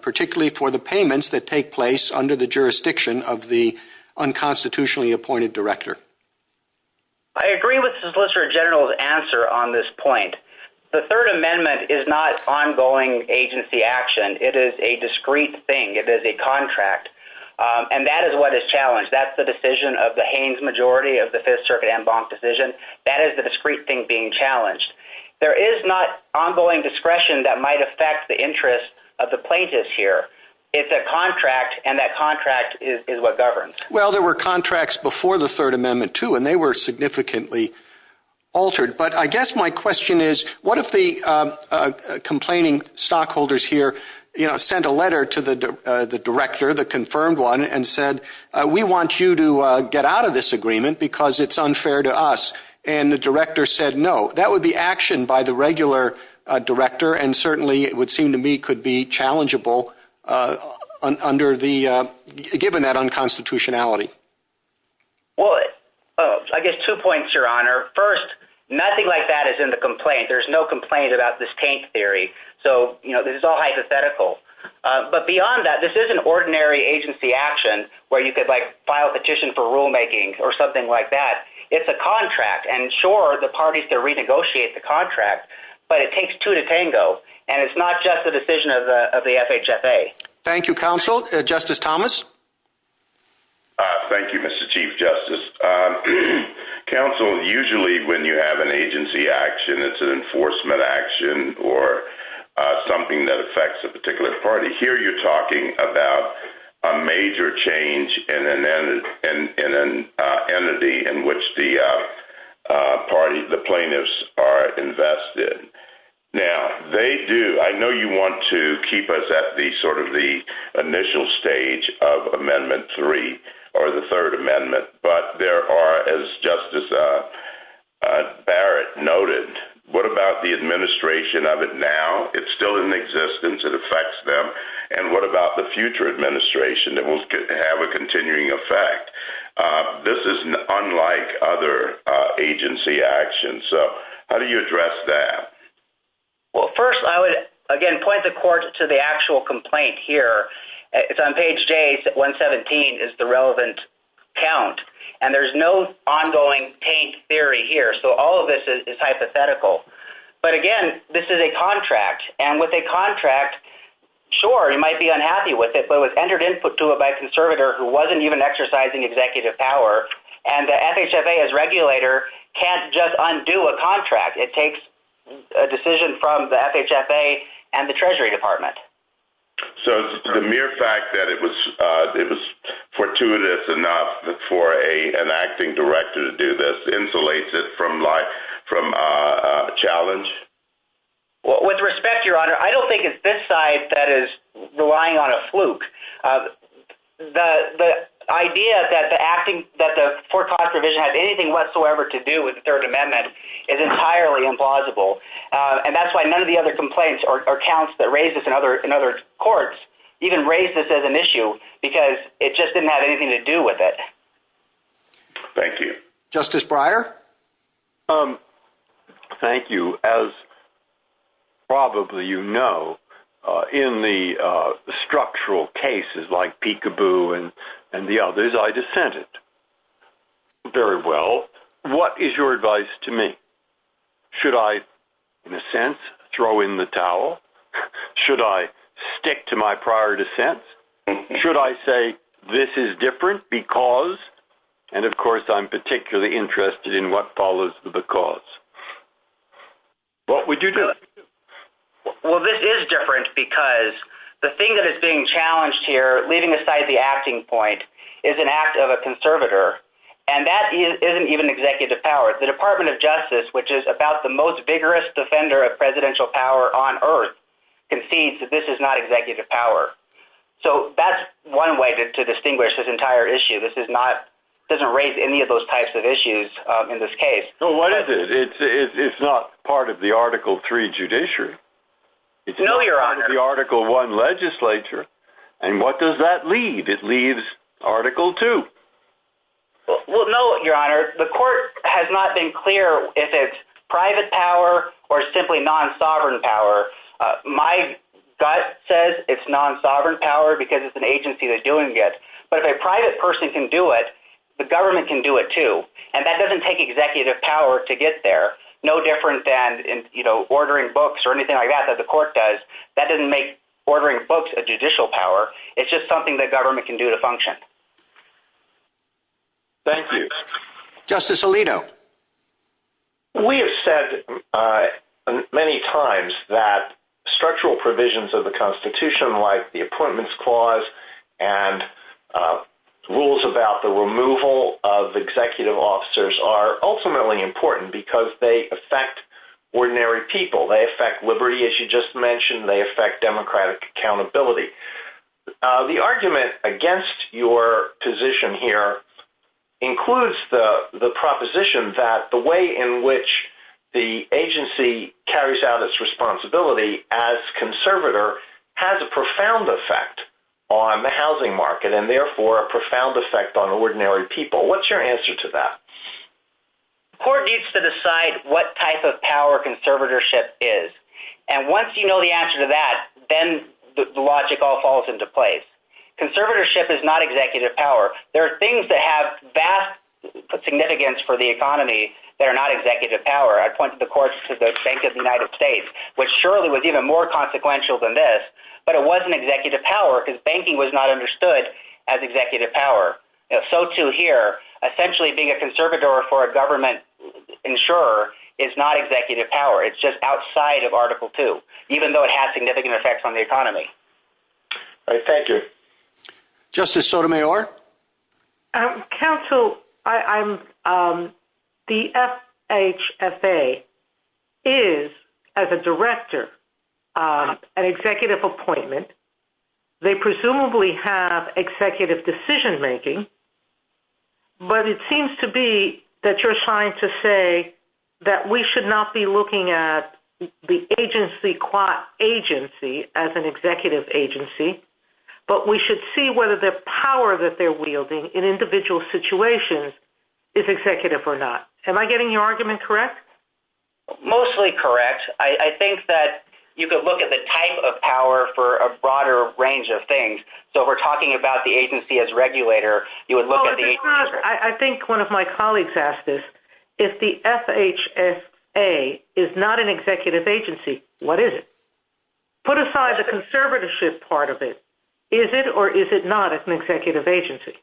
particularly for the payments that take place under the jurisdiction of the unconstitutionally appointed director? I agree with the Solicitor General's answer on this point. The Third Amendment is not ongoing agency action. It is a discrete thing. It is a contract. And that is what is challenged. That's the decision of the Haynes majority of the Fifth Circuit en banc decision. That is the discrete thing being challenged. There is not ongoing discretion that might affect the interests of the plaintiffs here. It's a contract, and that contract is what governs. Well, there were contracts before the Third Amendment, too, and they were significantly altered. But I guess my question is, what if the complaining stockholders here, you know, confirmed one and said, we want you to get out of this agreement because it's unfair to us. And the director said no. That would be action by the regular director, and certainly it would seem to me could be challengeable given that unconstitutionality. Well, I guess two points, Your Honor. First, nothing like that is in the complaint. There's no complaint about this tank theory. So, you know, this is all hypothetical. But beyond that, this is an ordinary agency action where you could, like, file a petition for rulemaking or something like that. It's a contract. And sure, the parties can renegotiate the contract, but it takes two to tango, and it's not just a decision of the FHSA. Thank you, counsel. Justice Thomas? Thank you, Mr. Chief Justice. Counsel, usually when you have an agency action, it's an enforcement action or something that affects a particular party. Here you're talking about a major change in an entity in which the party, the plaintiffs, are invested. Now, they do, I know you want to keep us at the sort of the initial stage of Amendment 3 or the Third Amendment, but there are, as Justice Barrett noted, what about the administration of it now? It's still in existence. It affects them. And what about the future administration that will have a continuing effect? This is unlike other agency actions. So how do you address that? Well, first I would, again, point the court to the actual complaint here. It's on page J. It's at 117 is the relevant count. And there's no ongoing tank theory here. So all of this is hypothetical. But, again, this is a contract. And with a contract, sure, you might be unhappy with it, but it was entered into it by a conservator who wasn't even exercising executive power, and the FHFA as regulator can't just undo a contract. It takes a decision from the FHFA and the Treasury Department. So the mere fact that it was fortuitous enough for an acting director to do this insulates it from life, from challenge. With respect, Your Honor, I don't think it's this side that is relying on a fluke. The idea that the acting – that the foreclosed provision has anything whatsoever to do with the Third Amendment is entirely implausible. And that's why none of the other complaints or counts that raise this in other courts even raise this as an issue because it just didn't have anything to do with it. Thank you. Justice Breyer? Thank you. As probably you know, in the structural cases like Peekaboo and the others, I dissented very well. What is your advice to me? Should I, in a sense, throw in the towel? Should I stick to my prior dissent? Should I say this is different because, and of course I'm particularly interested in what follows the because. What would you do? Well, this is different because the thing that is being challenged here, leaving aside the acting point, is an act of a conservator. And that isn't even executive power. The Department of Justice, which is about the most vigorous defender of presidential power on earth, concedes that this is not executive power. So that's one way to distinguish this entire issue. This doesn't raise any of those types of issues in this case. Well, what is it? It's not part of the Article III judiciary. No, Your Honor. It's not part of the Article I legislature. And what does that leave? It leaves Article II. Well, no, Your Honor. The court has not been clear if it's private power or simply non-sovereign power. My gut says it's non-sovereign power because it's an agency that's doing this. But if a private person can do it, the government can do it too. And that doesn't take executive power to get there. No different than, you know, ordering books or anything like that, that the court does. That doesn't make ordering books a judicial power. It's just something that government can do to function. Thank you. Justice Alito. We have said many times that structural provisions of the Constitution, like the Appointments Clause and rules about the removal of executive officers, are ultimately important because they affect ordinary people. They affect liberty, as you just mentioned. They affect democratic accountability. The argument against your position here includes the proposition that the way in which the agency carries out its responsibility as conservator has a profound effect on the housing market, and therefore a profound effect on ordinary people. What's your answer to that? The court needs to decide what type of power conservatorship is. And once you know the answer to that, then the logic all falls into place. Conservatorship is not executive power. There are things that have vast significance for the economy that are not executive power. I pointed the court to the Bank of the United States, which surely was even more consequential than this, but it wasn't executive power because banking was not understood as executive power. So too here, essentially, being a conservator for a government insurer is not executive power. It's just outside of Article II, even though it has significant effects on the economy. Thank you. Justice Sotomayor. Counsel, the FHFA is, as a director, an executive appointment. They presumably have executive decision-making, but it seems to be that you're trying to say that we should not be looking at the agency as an executive agency, but we should see whether the power that they're wielding in individual situations is executive or not. Am I getting your argument correct? Mostly correct. I think that you could look at the type of power for a broader range of things. So if we're talking about the agency as regulator, you would look at the agency. I think one of my colleagues asked this. If the FHFA is not an executive agency, what is it? Put aside the conservatorship part of it, is it or is it not an executive agency?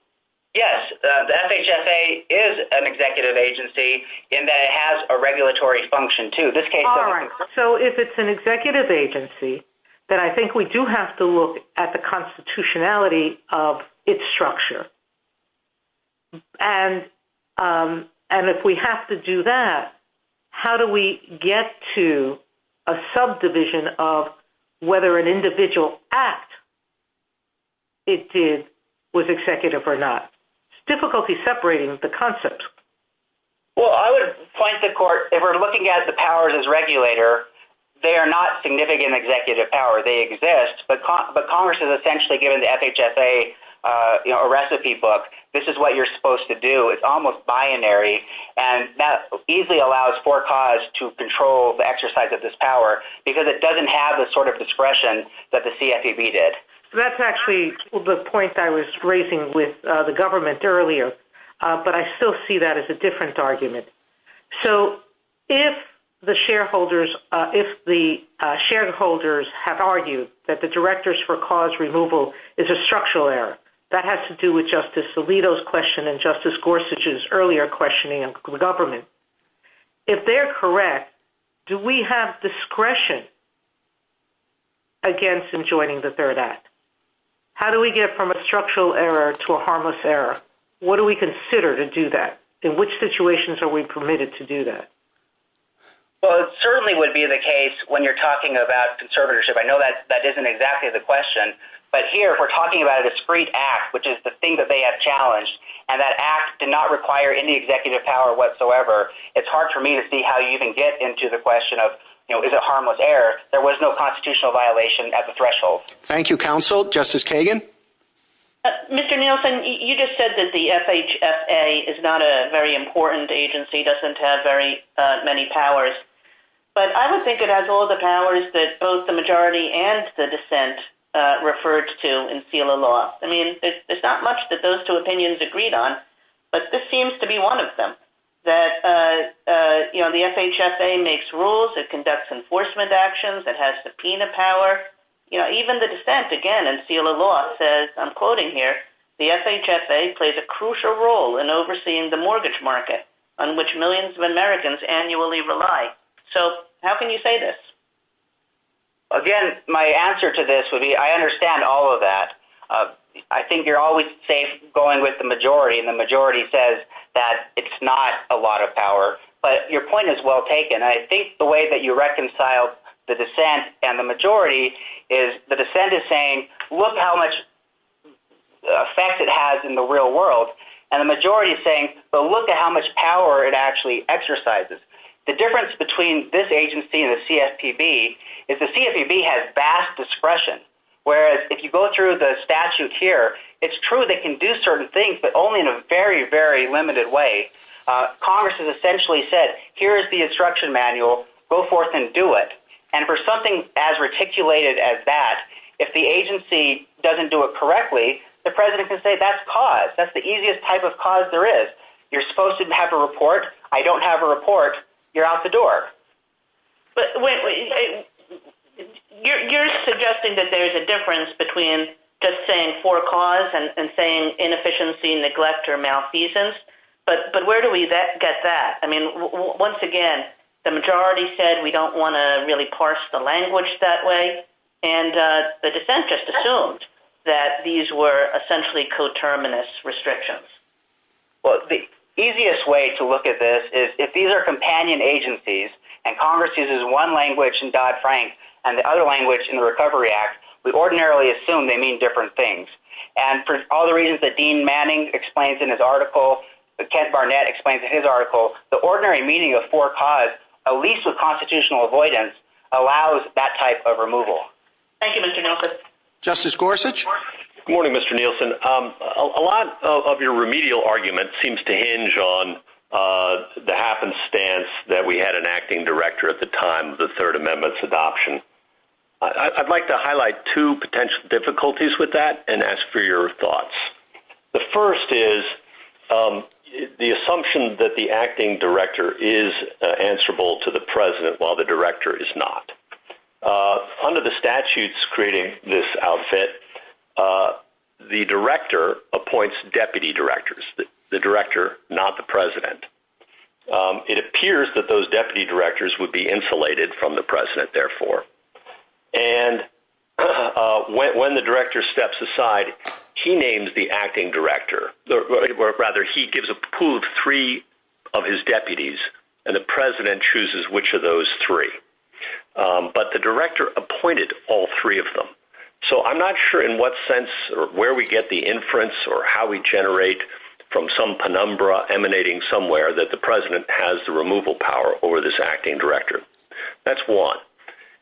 Yes. The FHFA is an executive agency in that it has a regulatory function, too. All right. So if it's an executive agency, then I think we do have to look at the constitutionality of its structure. And if we have to do that, how do we get to a subdivision of whether an individual act it did was executive or not? Difficulty separating the concepts. Well, I would point the court. If we're looking at the powers as regulator, they are not significant executive power. They exist, but Congress has essentially given the FHFA a recipe book. This is what you're supposed to do. It's almost binary, and that easily allows for cause to control the exercise of this power because it doesn't have the sort of discretion that the CFPB did. That's actually the point I was raising with the government earlier, but I still see that as a different argument. So if the shareholders have argued that the directors for cause removal is a structural error, that has to do with Justice Alito's question and Justice Gorsuch's earlier questioning of the government. If they're correct, do we have discretion against enjoining the Third Act? How do we get from a structural error to a harmless error? What do we consider to do that? In which situations are we permitted to do that? Well, it certainly would be the case when you're talking about conservatorship. I know that isn't exactly the question, but here if we're talking about a discreet act, which is the thing that they have challenged, and that act did not require any executive power whatsoever, it's hard for me to see how you can get into the question of is it harmless error. There was no constitutional violation at the threshold. Thank you, counsel. Justice Tagan? Mr. Nielsen, you just said that the FHFA is not a very important agency, doesn't have very many powers, but I don't think it has all the powers that both the majority and the dissent referred to in SELA law. I mean, there's not much that those two opinions agreed on, but this seems to be one of them, that the FHFA makes rules, it conducts enforcement actions, it has subpoena power. Even the dissent, again, in SELA law says, I'm quoting here, the FHFA plays a crucial role in overseeing the mortgage market on which millions of Americans annually rely. So how can you say this? Again, my answer to this would be I understand all of that. I think you're always going with the majority, and the majority says that it's not a lot of power. But your point is well taken, and I think the way that you reconcile the dissent and the majority is, the dissent is saying, look how much effect it has in the real world, and the majority is saying, but look at how much power it actually exercises. The difference between this agency and the CSPB is the CSPB has vast discretion, whereas if you go through the statute here, it's true they can do certain things, but only in a very, very limited way. Congress has essentially said, here is the instruction manual, go forth and do it. And for something as reticulated as that, if the agency doesn't do it correctly, the president can say that's cause. That's the easiest type of cause there is. You're supposed to have a report. I don't have a report. You're out the door. But you're suggesting that there's a difference between just saying for cause and saying inefficiency, neglect, or malfeasance. But where do we get that? I mean, once again, the majority said we don't want to really parse the language that way, and the dissenters assumed that these were essentially coterminous restrictions. Well, the easiest way to look at this is if these are companion agencies and Congress uses one language in Dodd-Frank and the other language in the Recovery Act, we ordinarily assume they mean different things. And for all the reasons that Dean Manning explains in his article, Kent Barnett explains in his article, the ordinary meaning of for cause, at least with constitutional avoidance, allows that type of removal. Thank you, Mr. Nielsen. Justice Gorsuch. Good morning, Mr. Nielsen. A lot of your remedial argument seems to hinge on the happenstance that we had an acting director at the time of the Third Amendment's adoption. I'd like to highlight two potential difficulties with that and ask for your thoughts. The first is the assumption that the acting director is answerable to the president while the director is not. Under the statutes creating this outfit, the director appoints deputy directors, the director, not the president. It appears that those deputy directors would be insulated from the president, therefore. And when the director steps aside, he names the acting director, or rather he gives a pool of three of his deputies, and the president chooses which of those three. But the director appointed all three of them. So I'm not sure in what sense or where we get the inference or how we generate from some penumbra emanating somewhere that the president has the removal power over this acting director. That's one.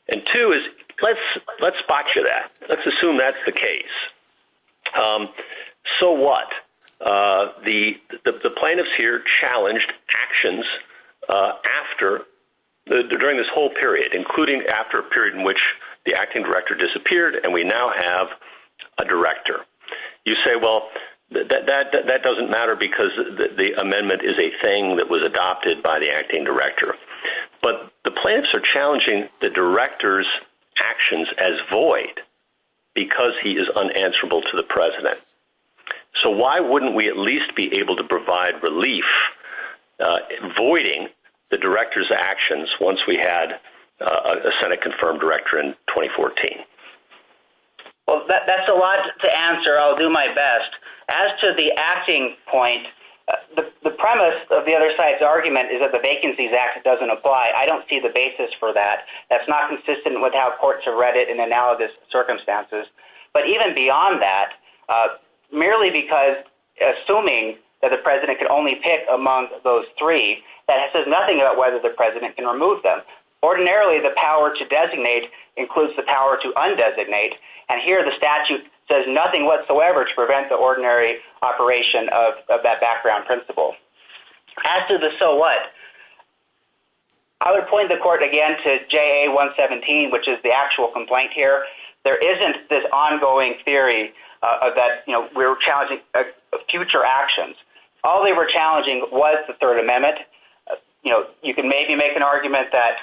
And two is let's spot you that. Let's assume that's the case. So what? The plaintiffs here challenged actions during this whole period, including after a period in which the acting director disappeared, and we now have a director. You say, well, that doesn't matter because the amendment is a thing that was adopted by the acting director. But the plaintiffs are challenging the director's actions as void because he is unanswerable to the president. So why wouldn't we at least be able to provide relief, avoiding the director's actions once we had a Senate-confirmed director in 2014? Well, that's a lot to answer. I'll do my best. As to the acting point, the premise of the other side's argument is that the Vacancies Act doesn't apply. I don't see the basis for that. That's not consistent with how courts have read it in analogous circumstances. But even beyond that, merely because assuming that the president could only pick among those three, that says nothing about whether the president can remove them. Ordinarily, the power to designate includes the power to undesignate, and here the statute says nothing whatsoever to prevent the ordinary operation of that background principle. As to the so what, I would point the court again to JA-117, which is the actual complaint here. There isn't this ongoing theory that we're challenging future actions. All they were challenging was the Third Amendment. You can maybe make an argument that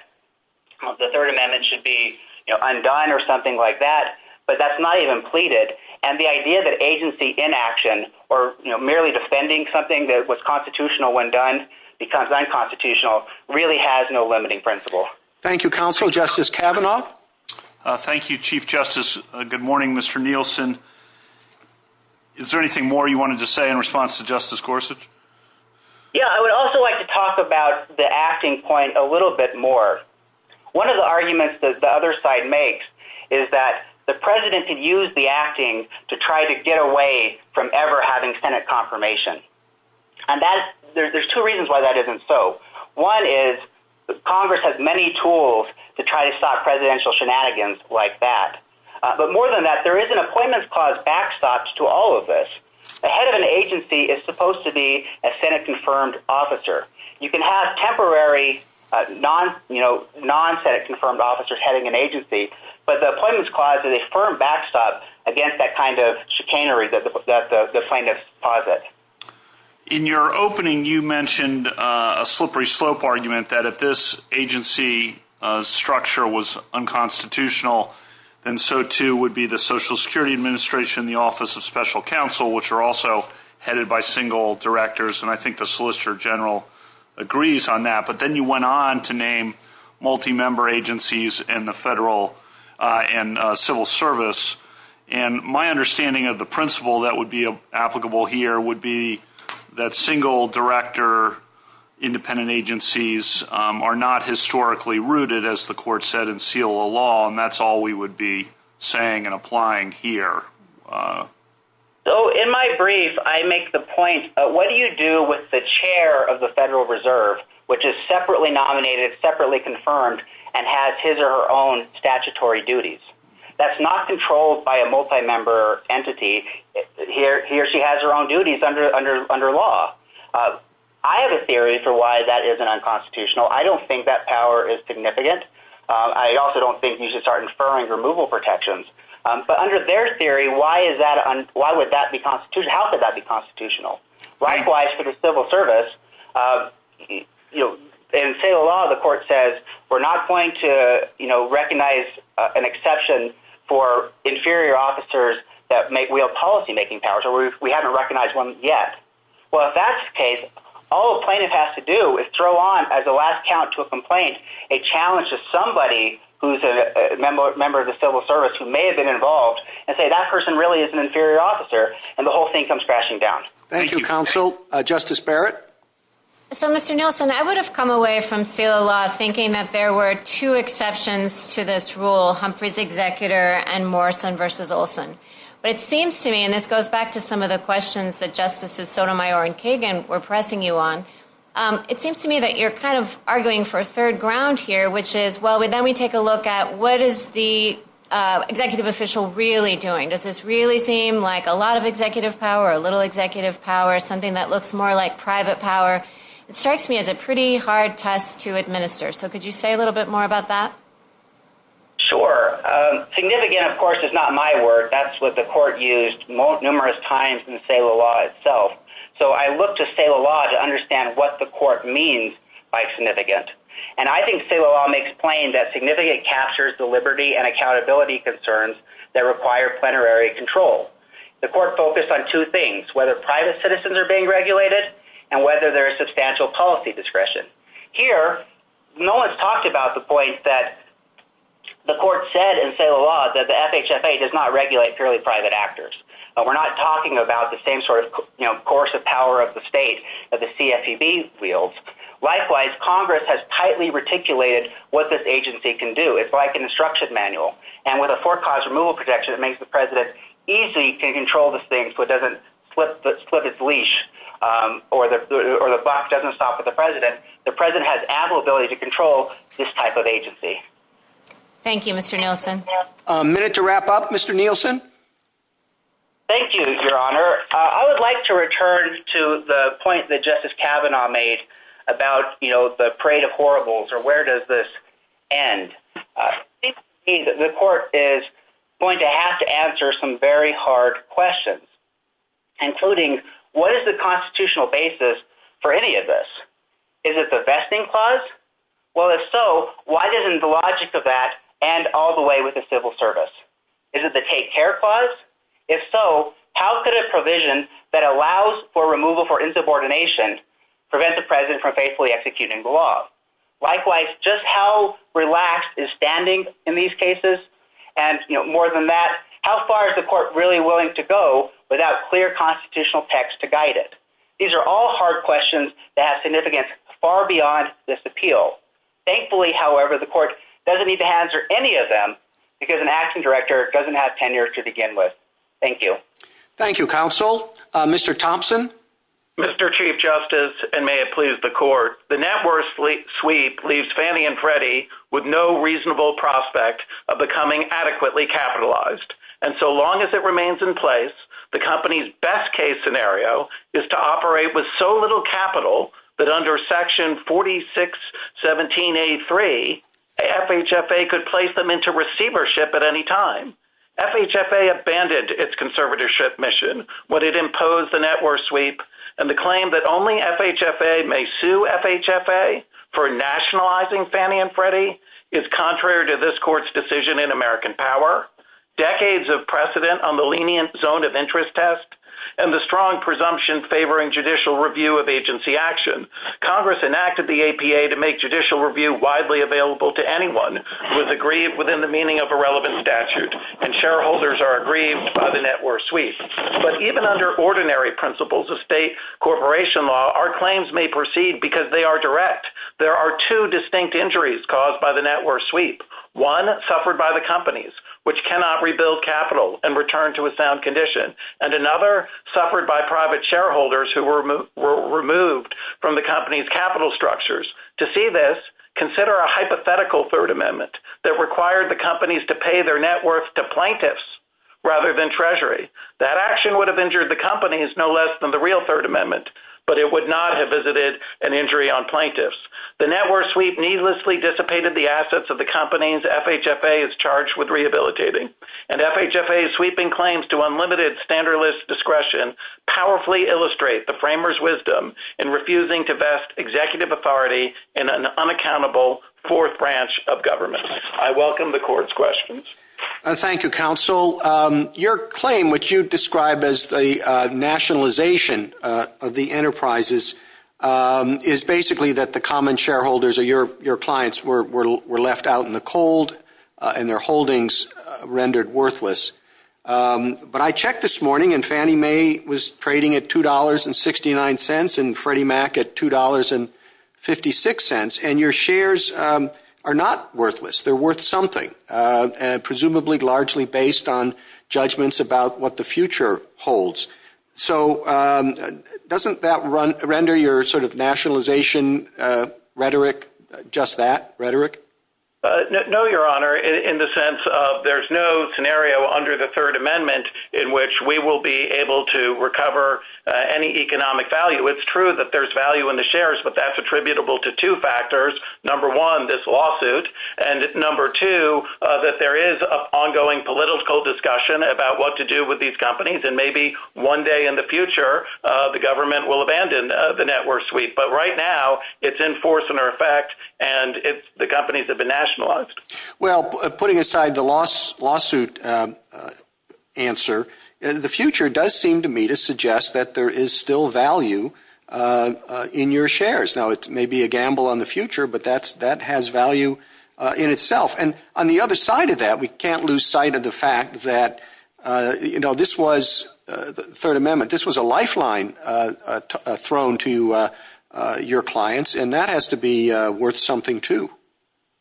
the Third Amendment should be undone or something like that, but that's not even pleaded. And the idea that agency inaction or merely defending something that was constitutional when done becomes unconstitutional really has no limiting principle. Thank you, Counsel. Justice Kavanaugh? Thank you, Chief Justice. Good morning, Mr. Nielsen. Is there anything more you wanted to say in response to Justice Gorsuch? Yeah, I would also like to talk about the acting point a little bit more. One of the arguments that the other side makes is that the president could use the acting to try to get away from ever having Senate confirmation. And there's two reasons why that isn't so. One is Congress has many tools to try to stop presidential shenanigans like that. But more than that, there is an appointments clause backstop to all of this. The head of an agency is supposed to be a Senate-confirmed officer. You can have temporary non-Senate-confirmed officers heading an agency, but the appointments clause is a firm backstop against that kind of chicanery that the plaintiffs posit. In your opening, you mentioned a slippery slope argument that if this agency structure was unconstitutional, then so too would be the Social Security Administration and the Office of Special Counsel, which are also headed by single directors. And I think the Solicitor General agrees on that. But then you went on to name multi-member agencies and the federal and civil service. And my understanding of the principle that would be applicable here would be that single-director independent agencies are not historically rooted, as the court said, and that's all we would be saying and applying here. So in my brief, I make the point, what do you do with the chair of the Federal Reserve, which is separately nominated, separately confirmed, and has his or her own statutory duties? That's not controlled by a multi-member entity. He or she has their own duties under law. I have a theory for why that is unconstitutional. I don't think that power is significant. I also don't think you should start inferring removal protections. But under their theory, why would that be constitutional? How could that be constitutional? Likewise, for the civil service, in federal law, the court says, we're not going to recognize an exception for inferior officers that make real policy-making powers, or we haven't recognized one yet. Well, if that's the case, all a plaintiff has to do is throw on, as a last count to a complaint, a challenge to somebody who's a member of the civil service who may have been involved and say that person really is an inferior officer, and the whole thing comes crashing down. Thank you, counsel. Justice Barrett? So, Mr. Nielsen, I would have come away from federal law thinking that there were two exceptions to this rule, Humphrey's executor and Morrison v. Olson. But it seems to me, and this goes back to some of the questions that Justices Sotomayor and Kagan were pressing you on, it seems to me that you're kind of arguing for a third ground here, which is, well, let me take a look at what is the executive official really doing? Does this really seem like a lot of executive power, a little executive power, something that looks more like private power? It strikes me as a pretty hard task to administer. So could you say a little bit more about that? Sure. Significant, of course, is not my word. That's what the court used numerous times in the sale of law itself. So I look to sale of law to understand what the court means by significant. And I think sale of law makes plain that significant captures the liberty and accountability concerns that require plenary control. The court focused on two things, whether private citizens are being regulated and whether there is substantial policy discretion. Here, no one has talked about the point that the court said in sale of law that the FHFA does not regulate purely private actors. We're not talking about the same sort of coercive power of the state that the CFPB wields. Likewise, Congress has tightly reticulated what this agency can do. It's like an instruction manual. And with a forecast removal protection, it makes the president easy to control this thing so it doesn't slip its leash or the box doesn't stop at the president. The president has ample ability to control this type of agency. Thank you, Mr. Nielsen. A minute to wrap up, Mr. Nielsen. Thank you, Your Honor. I would like to return to the point that Justice Kavanaugh made about the parade of horribles or where does this end. The court is going to have to answer some very hard questions, including what is the constitutional basis for any of this? Is it the vesting clause? Well, if so, why doesn't the logic of that end all the way with the civil service? Is it the take care clause? If so, how could a provision that allows for removal for insubordination prevent the president from faithfully executing the law? Likewise, just how relaxed is standing in these cases? And more than that, how far is the court really willing to go without clear constitutional text to guide it? These are all hard questions that have significance far beyond this appeal. Thankfully, however, the court doesn't need to answer any of them because an action director doesn't have tenure to begin with. Thank you. Thank you, counsel. Mr. Thompson. Mr. Chief Justice, and may it please the court, the net worth sweep leaves Fannie and Freddie with no reasonable prospect of becoming adequately capitalized. And so long as it remains in place, the company's best case scenario is to operate with so little capital that under section 4617A3, FHFA could place them into receivership at any time. FHFA abandoned its conservatorship mission when it imposed the net worth sweep, and the claim that only FHFA may sue FHFA for nationalizing Fannie and Freddie is contrary to this court's decision in American power. Decades of precedent on the lenient zone of interest test and the strong presumption favoring judicial review of agency action. Congress enacted the APA to make judicial review widely available to anyone who is agreed within the meaning of a relevant statute, and shareholders are agreed by the net worth sweep. But even under ordinary principles of state corporation law, our claims may proceed because they are direct. There are two distinct injuries caused by the net worth sweep, one suffered by the companies, which cannot rebuild capital and return to a sound condition, and another suffered by private shareholders who were removed from the company's capital structures. To see this, consider a hypothetical Third Amendment that required the companies to pay their net worth to plaintiffs rather than treasury. That action would have injured the companies no less than the real Third Amendment, but it would not have visited an injury on plaintiffs. The net worth sweep needlessly dissipated the assets of the companies FHFA is charged with rehabilitating, and FHFA's sweeping claims to unlimited standard list discretion powerfully illustrate the framers' wisdom in refusing to vest executive authority in an unaccountable fourth branch of government. I welcome the court's questions. Thank you, counsel. Your claim, which you've described as the nationalization of the enterprises, is basically that the common shareholders or your clients were left out in the cold and their holdings rendered worthless. But I checked this morning and Fannie Mae was trading at $2.69 and Freddie Mac at $2.56, and your shares are not worthless. They're worth something, presumably largely based on judgments about what the future holds. So doesn't that render your nationalization rhetoric just that, rhetoric? No, Your Honor, in the sense of there's no scenario under the Third Amendment in which we will be able to recover any economic value. It's true that there's value in the shares, but that's attributable to two factors. Number one, this lawsuit, and number two, that there is an ongoing political discussion about what to do with these companies and maybe one day in the future the government will abandon the network suite. But right now it's in force and in effect and the companies have been nationalized. Well, putting aside the lawsuit answer, the future does seem to me to suggest that there is still value in your shares. Now, it may be a gamble on the future, but that has value in itself. And on the other side of that, we can't lose sight of the fact that this was the Third Amendment. This was a lifeline thrown to your clients, and that has to be worth something too.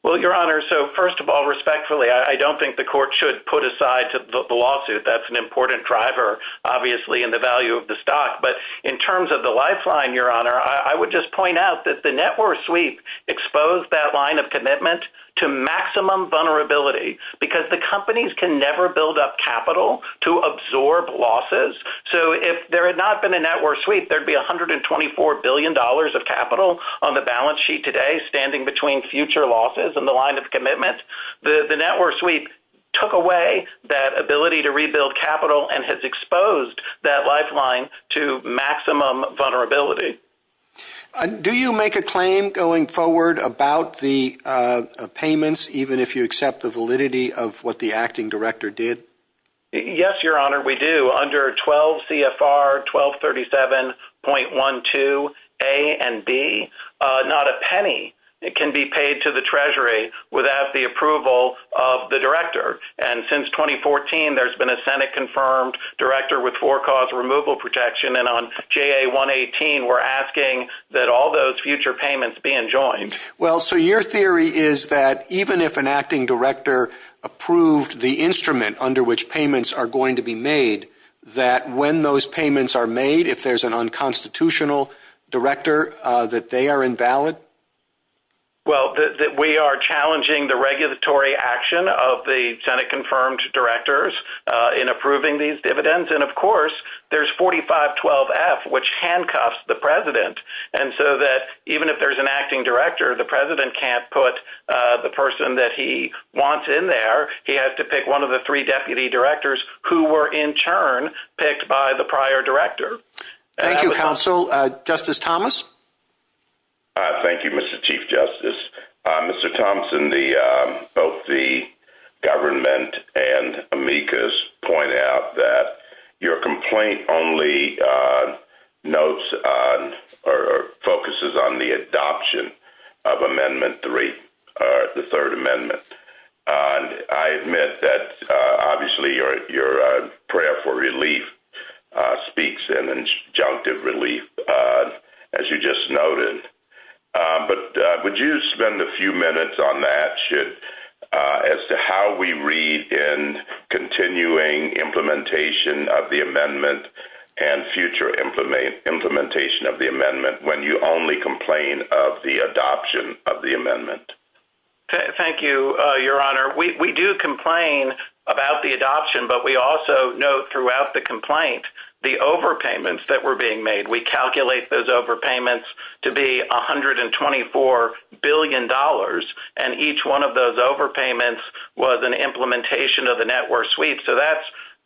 Well, Your Honor, so first of all, respectfully, I don't think the court should put aside the lawsuit. That's an important driver, obviously, in the value of the stock. But in terms of the lifeline, Your Honor, I would just point out that the network suite exposed that line of commitment to maximum vulnerability because the companies can never build up capital to absorb losses. So if there had not been a network suite, there would be $124 billion of capital on the balance sheet today standing between future losses and the line of commitment. The network suite took away that ability to rebuild capital and has exposed that lifeline to maximum vulnerability. Do you make a claim going forward about the payments, even if you accept the validity of what the acting director did? Yes, Your Honor, we do. Under 12 CFR 1237.12a and b, not a penny can be paid to the Treasury without the approval of the director. And since 2014, there's been a Senate-confirmed director with forecaused removal protection. And on JA-118, we're asking that all those future payments be enjoined. Well, so your theory is that even if an acting director approved the instrument under which payments are going to be made, that when those payments are made, if there's an unconstitutional director, that they are invalid? Well, we are challenging the regulatory action of the Senate-confirmed directors in approving these dividends. And, of course, there's 4512F, which handcuffs the president. And so that even if there's an acting director, the president can't put the person that he wants in there. He has to pick one of the three deputy directors who were, in turn, picked by the prior director. Thank you, counsel. Justice Thomas? Thank you, Mr. Chief Justice. Mr. Thomson, both the government and amicus point out that your complaint only notes or focuses on the adoption of Amendment 3, the Third Amendment. I admit that, obviously, your prayer for relief speaks in, and junctive relief, as you just noted. But would you spend a few minutes on that, as to how we read in continuing implementation of the amendment and future implementation of the amendment, when you only complain of the adoption of the amendment? Thank you, Your Honor. We do complain about the adoption, but we also note throughout the complaint the overpayments that were being made. We calculate those overpayments to be $124 billion, and each one of those overpayments was an implementation of the network suite. So that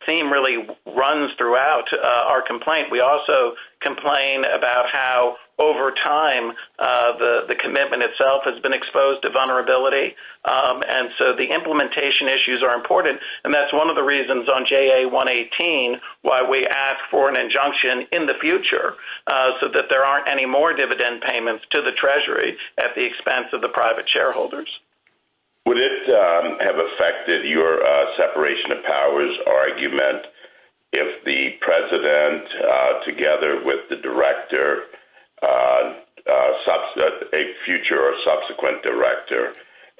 theme really runs throughout our complaint. We also complain about how, over time, the commitment itself has been exposed to vulnerability. And so the implementation issues are important, and that's one of the reasons on JA-118 why we ask for an injunction in the future, so that there aren't any more dividend payments to the Treasury at the expense of the private shareholders. Would it have affected your separation of powers argument if the President, together with the Director, a future or subsequent Director,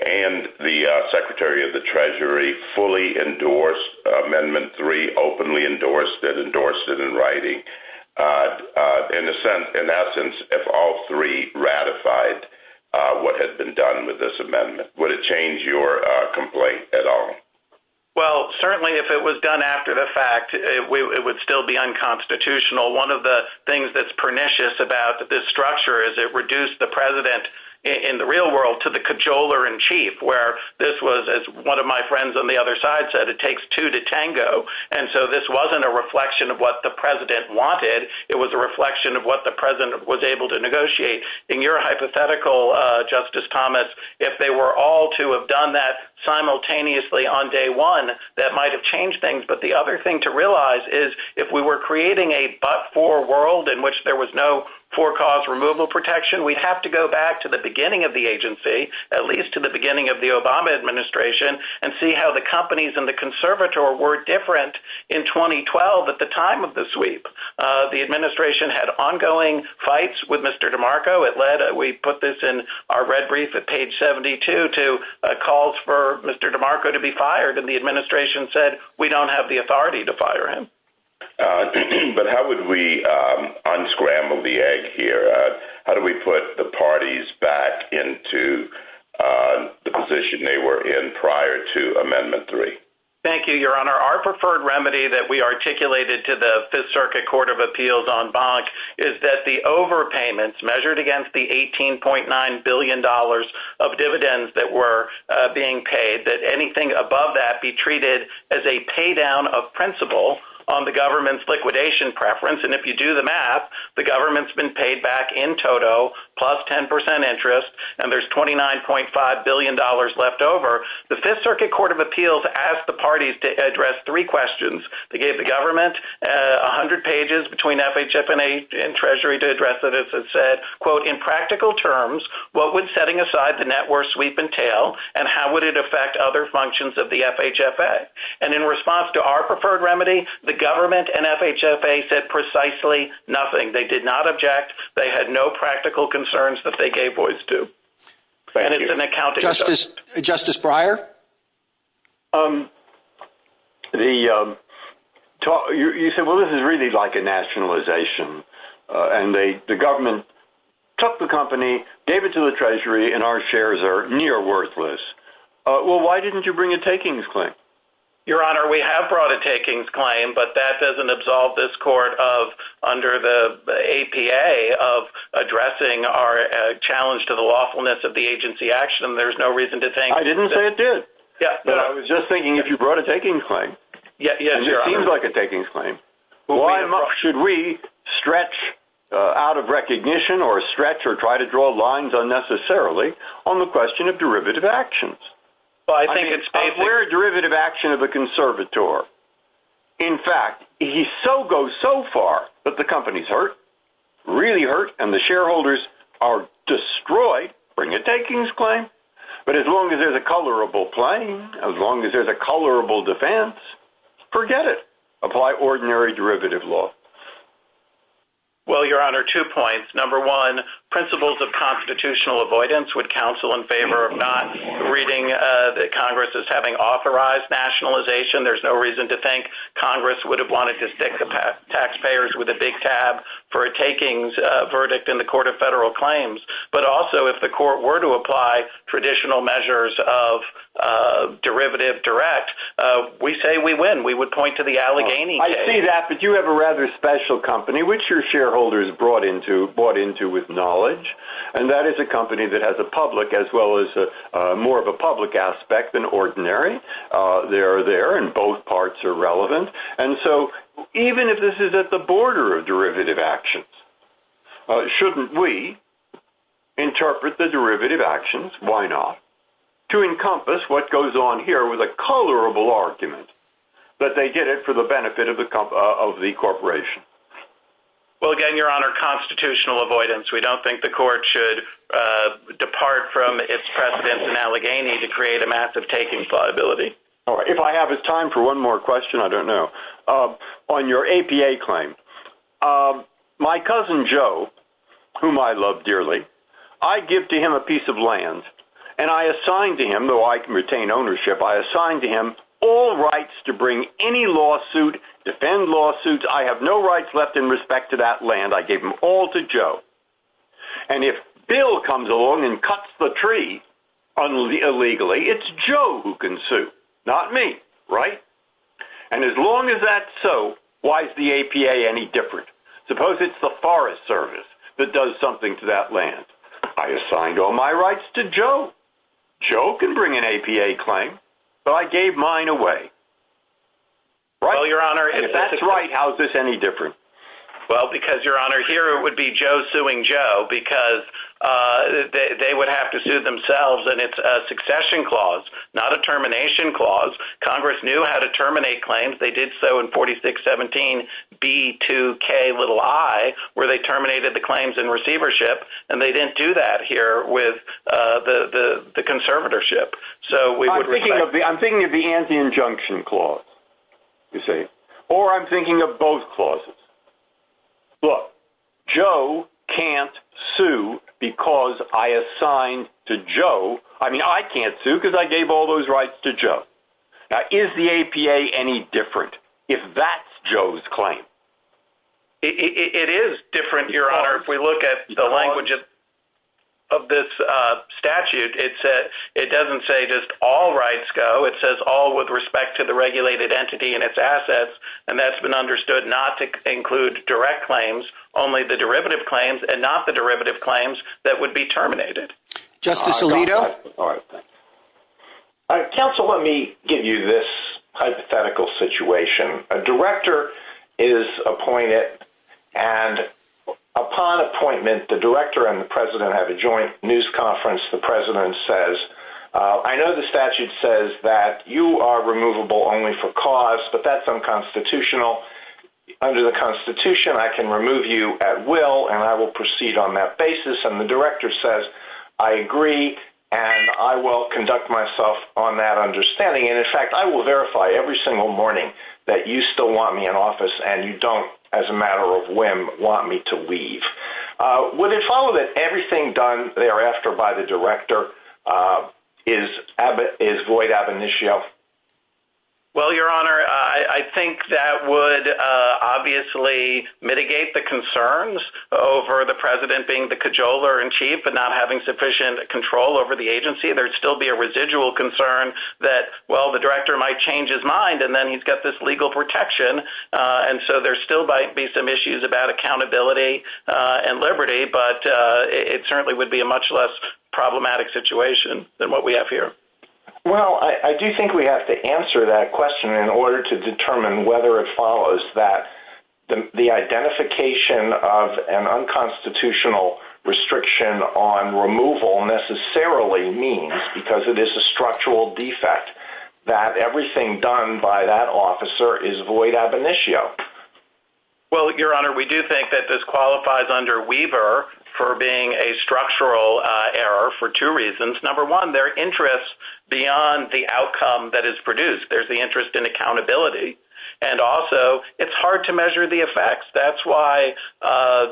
and the Secretary of the Treasury fully endorsed Amendment 3, openly endorsed it, endorsed it in writing, in essence, if all three ratified what had been done with this amendment? Would it change your complaint at all? Well, certainly if it was done after the fact, it would still be unconstitutional. One of the things that's pernicious about this structure is it reduced the President, in the real world, to the cajoler-in-chief, where this was, as one of my friends on the other side said, it takes two to tango. And so this wasn't a reflection of what the President wanted. It was a reflection of what the President was able to negotiate. In your hypothetical, Justice Thomas, if they were all to have done that simultaneously on day one, that might have changed things. But the other thing to realize is if we were creating a but-for world, in which there was no for-cause removal protection, we'd have to go back to the beginning of the agency, at least to the beginning of the Obama administration, and see how the companies and the conservator were different in 2012 at the time of the sweep. The administration had ongoing fights with Mr. DeMarco. We put this in our red wreath at page 72 to calls for Mr. DeMarco to be fired, and the administration said, we don't have the authority to fire him. But how would we unscramble the egg here? How do we put the parties back into the position they were in prior to Amendment 3? Thank you, Your Honor. Our preferred remedy that we articulated to the Fifth Circuit Court of Appeals on Bonk is that the overpayments measured against the $18.9 billion of dividends that were being paid, that anything above that be treated as a pay-down of principle on the government's liquidation preference. And if you do the math, the government's been paid back in total plus 10% interest, and there's $29.5 billion left over. The Fifth Circuit Court of Appeals asked the parties to address three questions. They gave the government 100 pages between FHFA and Treasury to address it. It said, quote, in practical terms, what would setting aside the net worth sweep entail, and how would it affect other functions of the FHFA? And in response to our preferred remedy, the government and FHFA said precisely nothing. They did not object. They had no practical concerns that they gave voice to. Thank you. Justice Breyer? You said, well, this is really like a nationalization, and the government took the company, gave it to the Treasury, and our shares are near worthless. Well, why didn't you bring a takings claim? Your Honor, we have brought a takings claim, but that doesn't absolve this Court of, under the APA, of addressing our challenge to the lawfulness of the agency action, and there's no reason to think that. I didn't say it did. Yeah. But I was just thinking, if you brought a takings claim, and it seems like a takings claim, why should we stretch out of recognition, or stretch or try to draw lines unnecessarily, on the question of derivative actions? Well, I think it's painful. We're a derivative action of a conservator. In fact, if you go so far that the company's hurt, really hurt, and the shareholders are destroyed, bring a takings claim. But as long as there's a colorable claim, as long as there's a colorable defense, forget it. Apply ordinary derivative law. Well, Your Honor, two points. Number one, principles of constitutional avoidance would counsel in favor of not reading that Congress is having authorized nationalization. There's no reason to think Congress would have wanted to stick the taxpayers with a big tab for a takings verdict in the Court of Federal Claims. But also, if the Court were to apply traditional measures of derivative direct, we say we win. We would point to the Allegheny case. I see that. But you have a rather special company, which your shareholders bought into with knowledge, and that is a company that has a public, as well as more of a public aspect than ordinary. They are there, and both parts are relevant. And so even if this is at the border of derivative actions, shouldn't we interpret the derivative actions? Why not? To encompass what goes on here with a colorable argument that they did it for the benefit of the corporation. Well, again, Your Honor, constitutional avoidance, we don't think the Court should depart from its precedence in Allegheny to create a massive takings liability. If I have time for one more question, I don't know. On your APA claim, my cousin Joe, whom I love dearly, I give to him a piece of land, and I assign to him, though I can retain ownership, I assign to him all rights to bring any lawsuit, defend lawsuits. I have no rights left in respect to that land. I gave them all to Joe. And if Bill comes along and cuts the tree illegally, it's Joe who can sue, not me, right? And as long as that's so, why is the APA any different? Suppose it's the Forest Service that does something to that land. I assign all my rights to Joe. Joe can bring an APA claim. So I gave mine away. Well, Your Honor, if that's right, how is this any different? Well, because, Your Honor, here it would be Joe suing Joe, because they would have to sue themselves, and it's a succession clause, not a termination clause. Congress knew how to terminate claims. They did so in 4617B2Ki, where they terminated the claims in receivership, and they didn't do that here with the conservatorship. I'm thinking of the anti-injunction clause, you see. Or I'm thinking of both clauses. Look, Joe can't sue because I assigned to Joe. I mean, I can't sue because I gave all those rights to Joe. Now, is the APA any different if that's Joe's claim? It is different, Your Honor. If we look at the language of this statute, it doesn't say just all rights go. It says all with respect to the regulated entity and its assets, and that's been understood not to include direct claims, only the derivative claims, and not the derivative claims that would be terminated. Justice Alito? All right. Counsel, let me give you this hypothetical situation. A director is appointed, and upon appointment, the director and the president have a joint news conference, the president says, I know the statute says that you are removable only for cause, but that's unconstitutional. Under the Constitution, I can remove you at will, and I will proceed on that basis. And the director says, I agree, and I will conduct myself on that understanding. And, in fact, I will verify every single morning that you still want me in office and you don't, as a matter of whim, want me to leave. Would it follow that everything done thereafter by the director is void ab initio? Well, Your Honor, I think that would obviously mitigate the concerns over the president being the cajoler in chief and not having sufficient control over the agency. There would still be a residual concern that, well, the director might change his mind and then he's got this legal protection, and so there still might be some issues about accountability and liberty, but it certainly would be a much less problematic situation than what we have here. Well, I do think we have to answer that question in order to determine whether it follows that the identification of an unconstitutional restriction on removal necessarily means, because it is a structural defect, that everything done by that officer is void ab initio. Well, Your Honor, we do think that this qualifies under Weber for being a structural error for two reasons. Number one, there are interests beyond the outcome that is produced. There's the interest in accountability. And, also, it's hard to measure the effects. That's why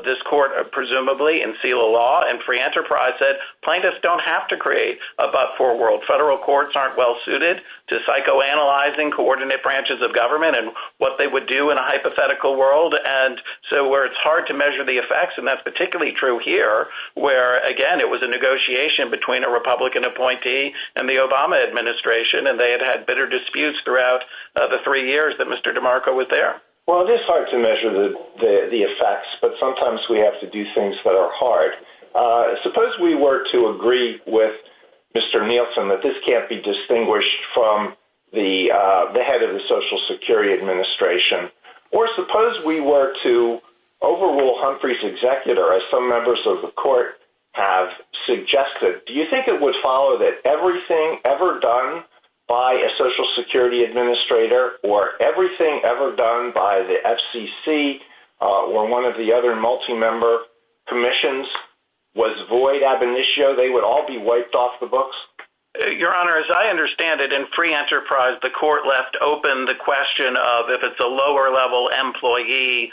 this court, presumably, in seal of law and free enterprise, said plaintiffs don't have to create a but-for world. Federal courts aren't well suited to psychoanalyzing coordinate branches of government and what they would do in a hypothetical world. And so where it's hard to measure the effects, and that's particularly true here, where, again, it was a negotiation between a Republican appointee and the Obama administration, and they had had bitter disputes throughout the three years that Mr. DeMarco was there. Well, it is hard to measure the effects, but sometimes we have to do things that are hard. Suppose we were to agree with Mr. Nielsen that this can't be distinguished from the head of the Social Security Administration. Or suppose we were to overrule Humphrey's executor, as some members of the court have suggested. Do you think it would follow that everything ever done by a Social Security Administrator or everything ever done by the FCC or one of the other multi-member commissions was void ab initio? They would all be wiped off the books? Your Honor, as I understand it, in free enterprise, the court left open the question of, if it's a lower-level employee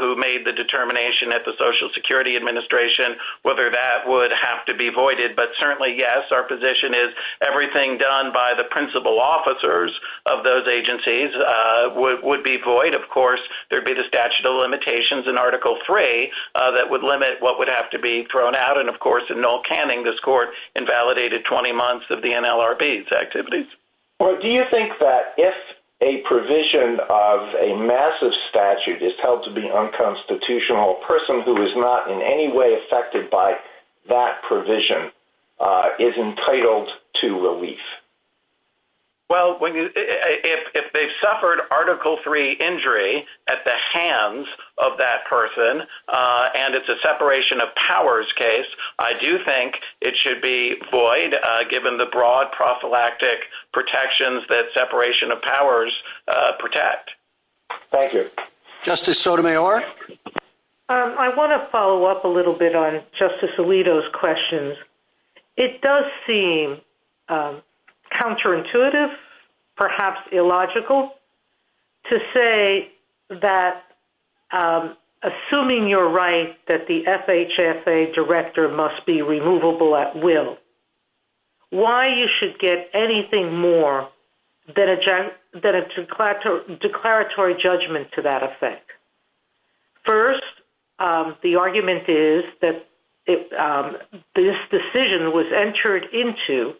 who made the determination at the Social Security Administration, whether that would have to be voided. But certainly, yes, our position is everything done by the principal officers of those agencies would be void. Of course, there would be the statute of limitations in Article III that would limit what would have to be thrown out. And, of course, in Noel Canning, this court invalidated 20 months of the NLRB's activities. Well, do you think that if a provision of a massive statute is held to be unconstitutional, a person who is not in any way affected by that provision is entitled to relief? Well, if they suffered Article III injury at the hands of that person and it's a separation of powers case, I do think it should be void given the broad prophylactic protections that separation of powers protect. Thank you. Justice Sotomayor? I want to follow up a little bit on Justice Alito's questions. It does seem counterintuitive, perhaps illogical, to say that, assuming you're right, that the FHSA director must be removable at will, why you should get anything more than a declaratory judgment to that effect. First, the argument is that this decision was entered into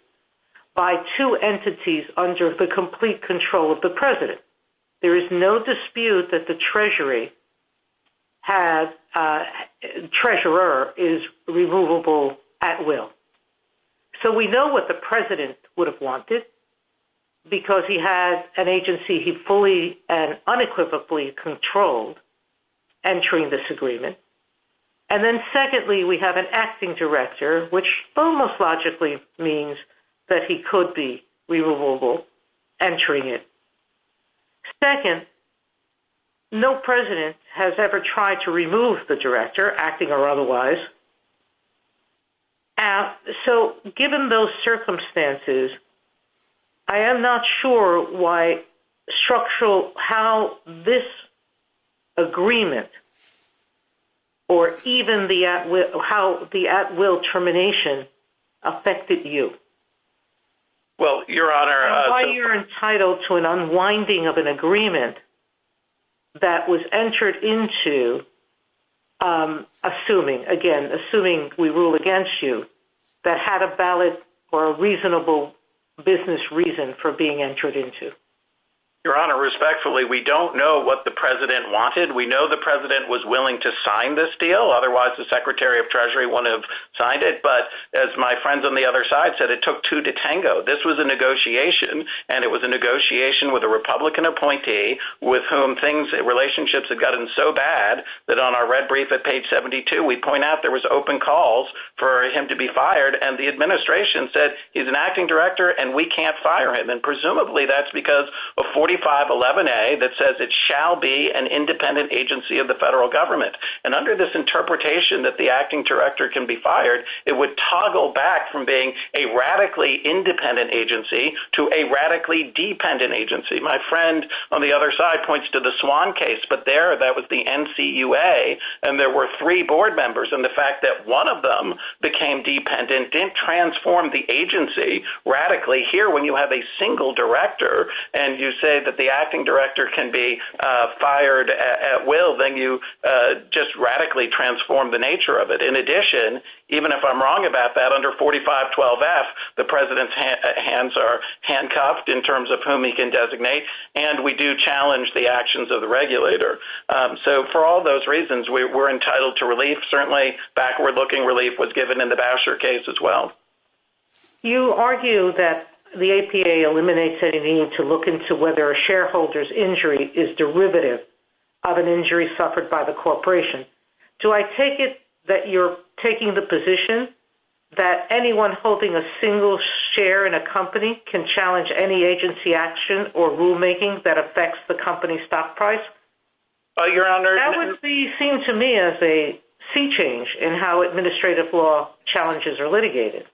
by two entities under the complete control of the president. There is no dispute that the treasurer is removable at will. So we know what the president would have wanted because he had an agency he fully and unequivocally controlled entering this agreement. And then secondly, we have an acting director, which almost logically means that he could be removable entering it. Second, no president has ever tried to remove the director, acting or otherwise. So given those circumstances, I am not sure why structural, how this agreement or even how the at will termination affected you. Well, Your Honor. Why you're entitled to an unwinding of an agreement that was entered into, assuming, again, assuming we rule against you, that had a valid or a reasonable business reason for being entered into. Your Honor, respectfully, we don't know what the president wanted. We know the president was willing to sign this deal. Otherwise, the Secretary of Treasury wouldn't have signed it. But as my friends on the other side said, it took two to tango. This was a negotiation. And it was a negotiation with a Republican appointee with whom things, relationships had gotten so bad that on our red brief at page 72, we point out there was open calls for him to be fired. And the administration said he's an acting director and we can't fire him. And presumably that's because of 4511A that says it shall be an independent agency of the federal government. And under this interpretation that the acting director can be fired, it would toggle back from being a radically independent agency to a radically dependent agency. My friend on the other side points to the Swan case. But there that was the NCUA. And there were three board members. And the fact that one of them became dependent didn't transform the agency radically. Here when you have a single director and you say that the acting director can be fired at will, then you just radically transform the nature of it. In addition, even if I'm wrong about that, under 4512F, the president's hands are handcuffed in terms of whom he can designate. And we do challenge the actions of the regulator. So for all those reasons, we're entitled to relief. Certainly backward-looking relief was given in the Boucher case as well. You argue that the APA eliminates any need to look into whether a shareholder's injury is derivative of an injury suffered by the corporation. Do I take it that you're taking the position that anyone holding a single share in a company can challenge any agency action or rulemaking that affects the company's stock price? That would be seen to me as a sea change in how administrative law challenges are litigated.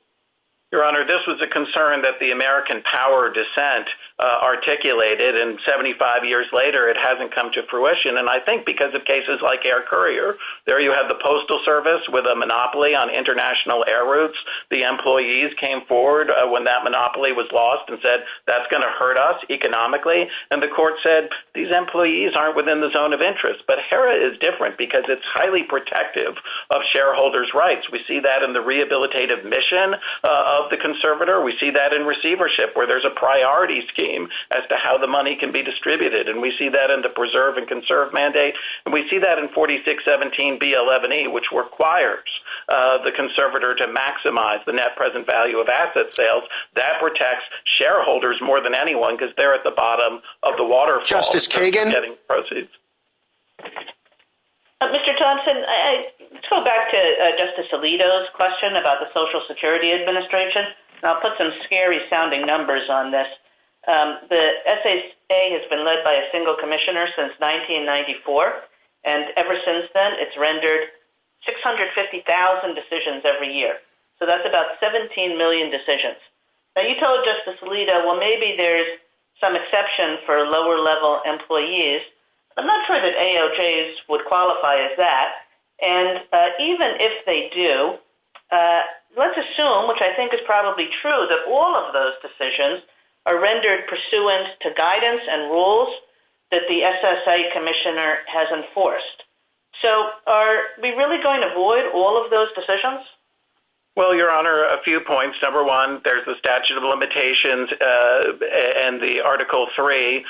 Your Honor, this was a concern that the American power dissent articulated. And 75 years later, it hasn't come to fruition. And I think because of cases like Air Courier, there you have the Postal Service with a monopoly on international air routes. The employees came forward when that monopoly was lost and said, that's going to hurt us economically. And the court said, these employees aren't within the zone of interest. But HERA is different because it's highly protective of shareholders' rights. We see that in the rehabilitative mission of the conservator. We see that in receivership where there's a priority scheme as to how the money can be distributed. And we see that in the preserve and conserve mandate. And we see that in 4617B11E, which requires the conservator to maximize the net present value of asset sales. That protects shareholders more than anyone because they're at the bottom of the waterfall. Justice Kagan? Mr. Thompson, let's go back to Justice Alito's question about the Social Security Administration. I'll put some scary-sounding numbers on this. The SSA has been led by a single commissioner since 1994. And ever since then, it's rendered 650,000 decisions every year. So that's about 17 million decisions. Now, you told Justice Alito, well, maybe there's some exception for lower-level employees. I'm not sure that AOJs would qualify as that. And even if they do, let's assume, which I think is probably true, that all of those decisions are rendered pursuant to guidance and rules that the SSA commissioner has enforced. So are we really going to avoid all of those decisions? Well, Your Honor, a few points. Number one, there's the statute of limitations and the Article III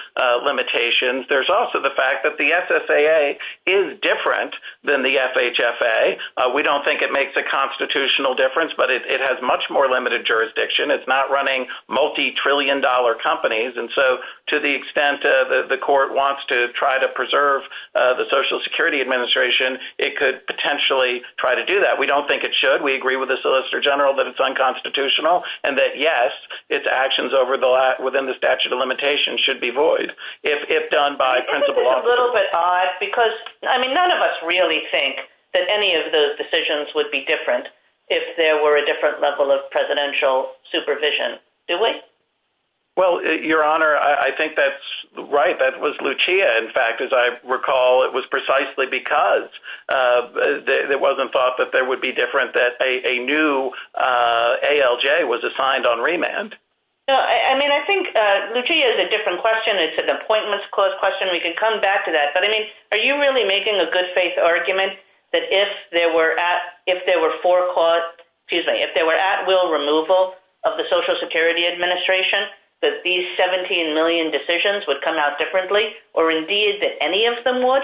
limitations. There's also the fact that the SSA is different than the FHFA. We don't think it makes a constitutional difference, but it has much more limited jurisdiction. It's not running multi-trillion-dollar companies. And so to the extent that the court wants to try to preserve the Social Security Administration, it could potentially try to do that. We don't think it should. We agree with the Solicitor General that it's unconstitutional and that, yes, its actions within the statute of limitations should be void if done by principle law. Isn't it a little bit odd? Because, I mean, none of us really think that any of those decisions would be different if there were a different level of presidential supervision, do we? Well, Your Honor, I think that's right. That was Lucia. In fact, as I recall, it was precisely because it wasn't thought that they would be different that a new ALJ was assigned on remand. No, I mean, I think Lucia is a different question. It's an appointments clause question. We can come back to that. Are you really making a good-faith argument that if there were at-will removal of the Social Security Administration that these 17 million decisions would come out differently, or indeed that any of them would?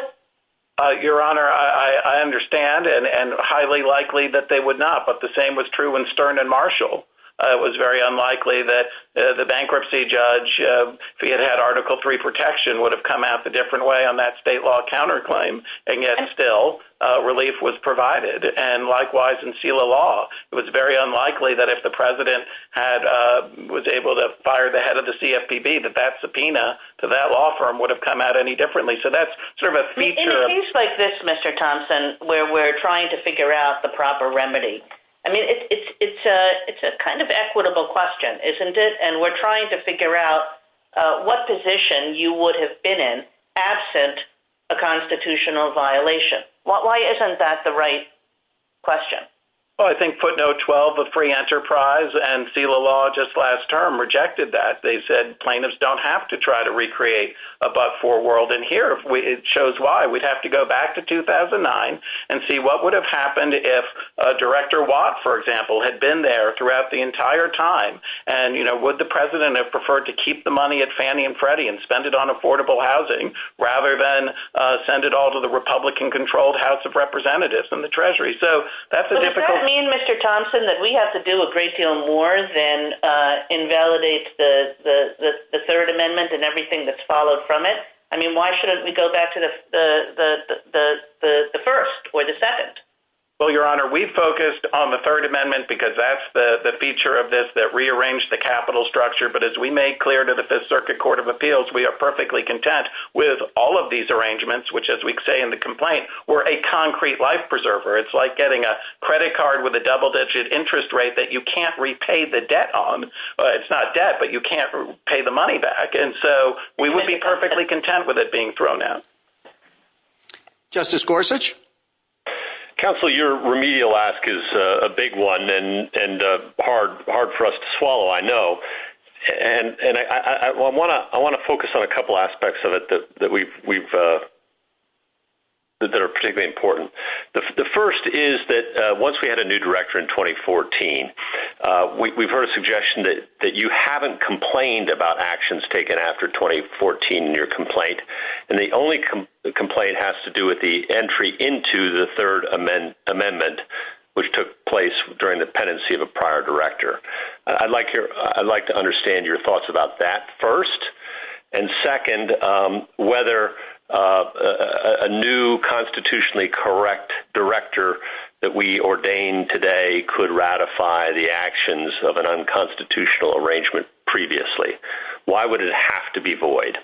Your Honor, I understand and highly likely that they would not. But the same was true when Stern and Marshall. It was very unlikely that the bankruptcy judge, if he had had Article III protection, would have come out a different way on that state law counterclaim. And yet, still, relief was provided. And, likewise, in SELA law, it was very unlikely that if the President was able to fire the head of the CFPB that that subpoena to that law firm would have come out any differently. So that's sort of a feature. In a case like this, Mr. Thompson, where we're trying to figure out the proper remedy, I mean, it's a kind of equitable question, isn't it? And we're trying to figure out what position you would have been in absent a constitutional violation. Why isn't that the right question? Well, I think footnote 12 of free enterprise and SELA law just last term rejected that. They said plaintiffs don't have to try to recreate a but-for world. And here it shows why. We'd have to go back to 2009 and see what would have happened if Director Watt, for example, had been there throughout the entire time. And, you know, would the President have preferred to keep the money at Fannie and Freddie and spend it on affordable housing rather than send it all to the Republican-controlled House of Representatives and the Treasury? Does that mean, Mr. Thompson, that we have to do a great deal more than invalidate the Third Amendment and everything that's followed from it? I mean, why shouldn't we go back to the first or the second? Well, Your Honor, we focused on the Third Amendment because that's the feature of this that rearranged the capital structure. But as we made clear to the Fifth Circuit Court of Appeals, we are perfectly content with all of these arrangements, which, as we say in the complaint, were a concrete life preserver. It's like getting a credit card with a double-digit interest rate that you can't repay the debt on. It's not debt, but you can't pay the money back. And so we would be perfectly content with it being thrown out. Justice Gorsuch? Counselor, your remedial ask is a big one and hard for us to swallow, I know. And I want to focus on a couple aspects of it that are particularly important. The first is that once we had a new director in 2014, we've heard a suggestion that you haven't complained about actions taken after 2014 in your complaint. And the only complaint has to do with the entry into the Third Amendment, which took place during the pendency of a prior director. I'd like to understand your thoughts about that first. And second, whether a new constitutionally correct director that we ordained today could ratify the actions of an unconstitutional arrangement previously. Why would it have to be void?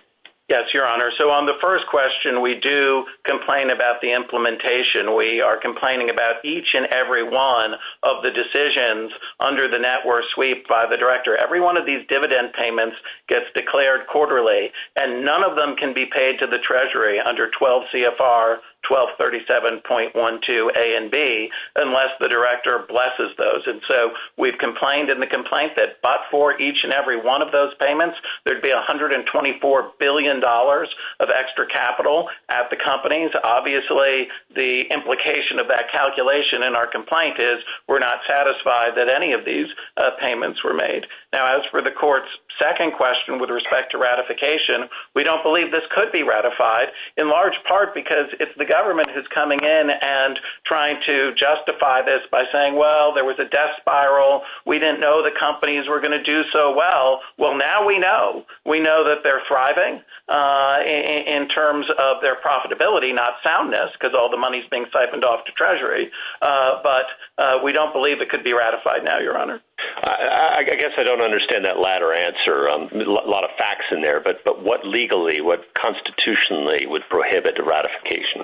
Yes, Your Honor. So on the first question, we do complain about the implementation. We are complaining about each and every one of the decisions under the network sweep by the director. Every one of these dividend payments gets declared quarterly. And none of them can be paid to the Treasury under 12 CFR 1237.12 A and B unless the director blesses those. And so we've complained in the complaint that but for each and every one of those payments, there would be $124 billion of extra capital at the companies. Obviously, the implication of that calculation in our complaint is we're not satisfied that any of these payments were made. Now, as for the court's second question with respect to ratification, we don't believe this could be ratified in large part because if the government is coming in and trying to justify this by saying, well, there was a death spiral. We didn't know the companies were going to do so well. Well, now we know. We know that they're thriving in terms of their profitability, not soundness because all the money is being siphoned off to Treasury. But we don't believe it could be ratified now, Your Honor. I guess I don't understand that latter answer. A lot of facts in there, but what legally, what constitutionally would prohibit the ratification?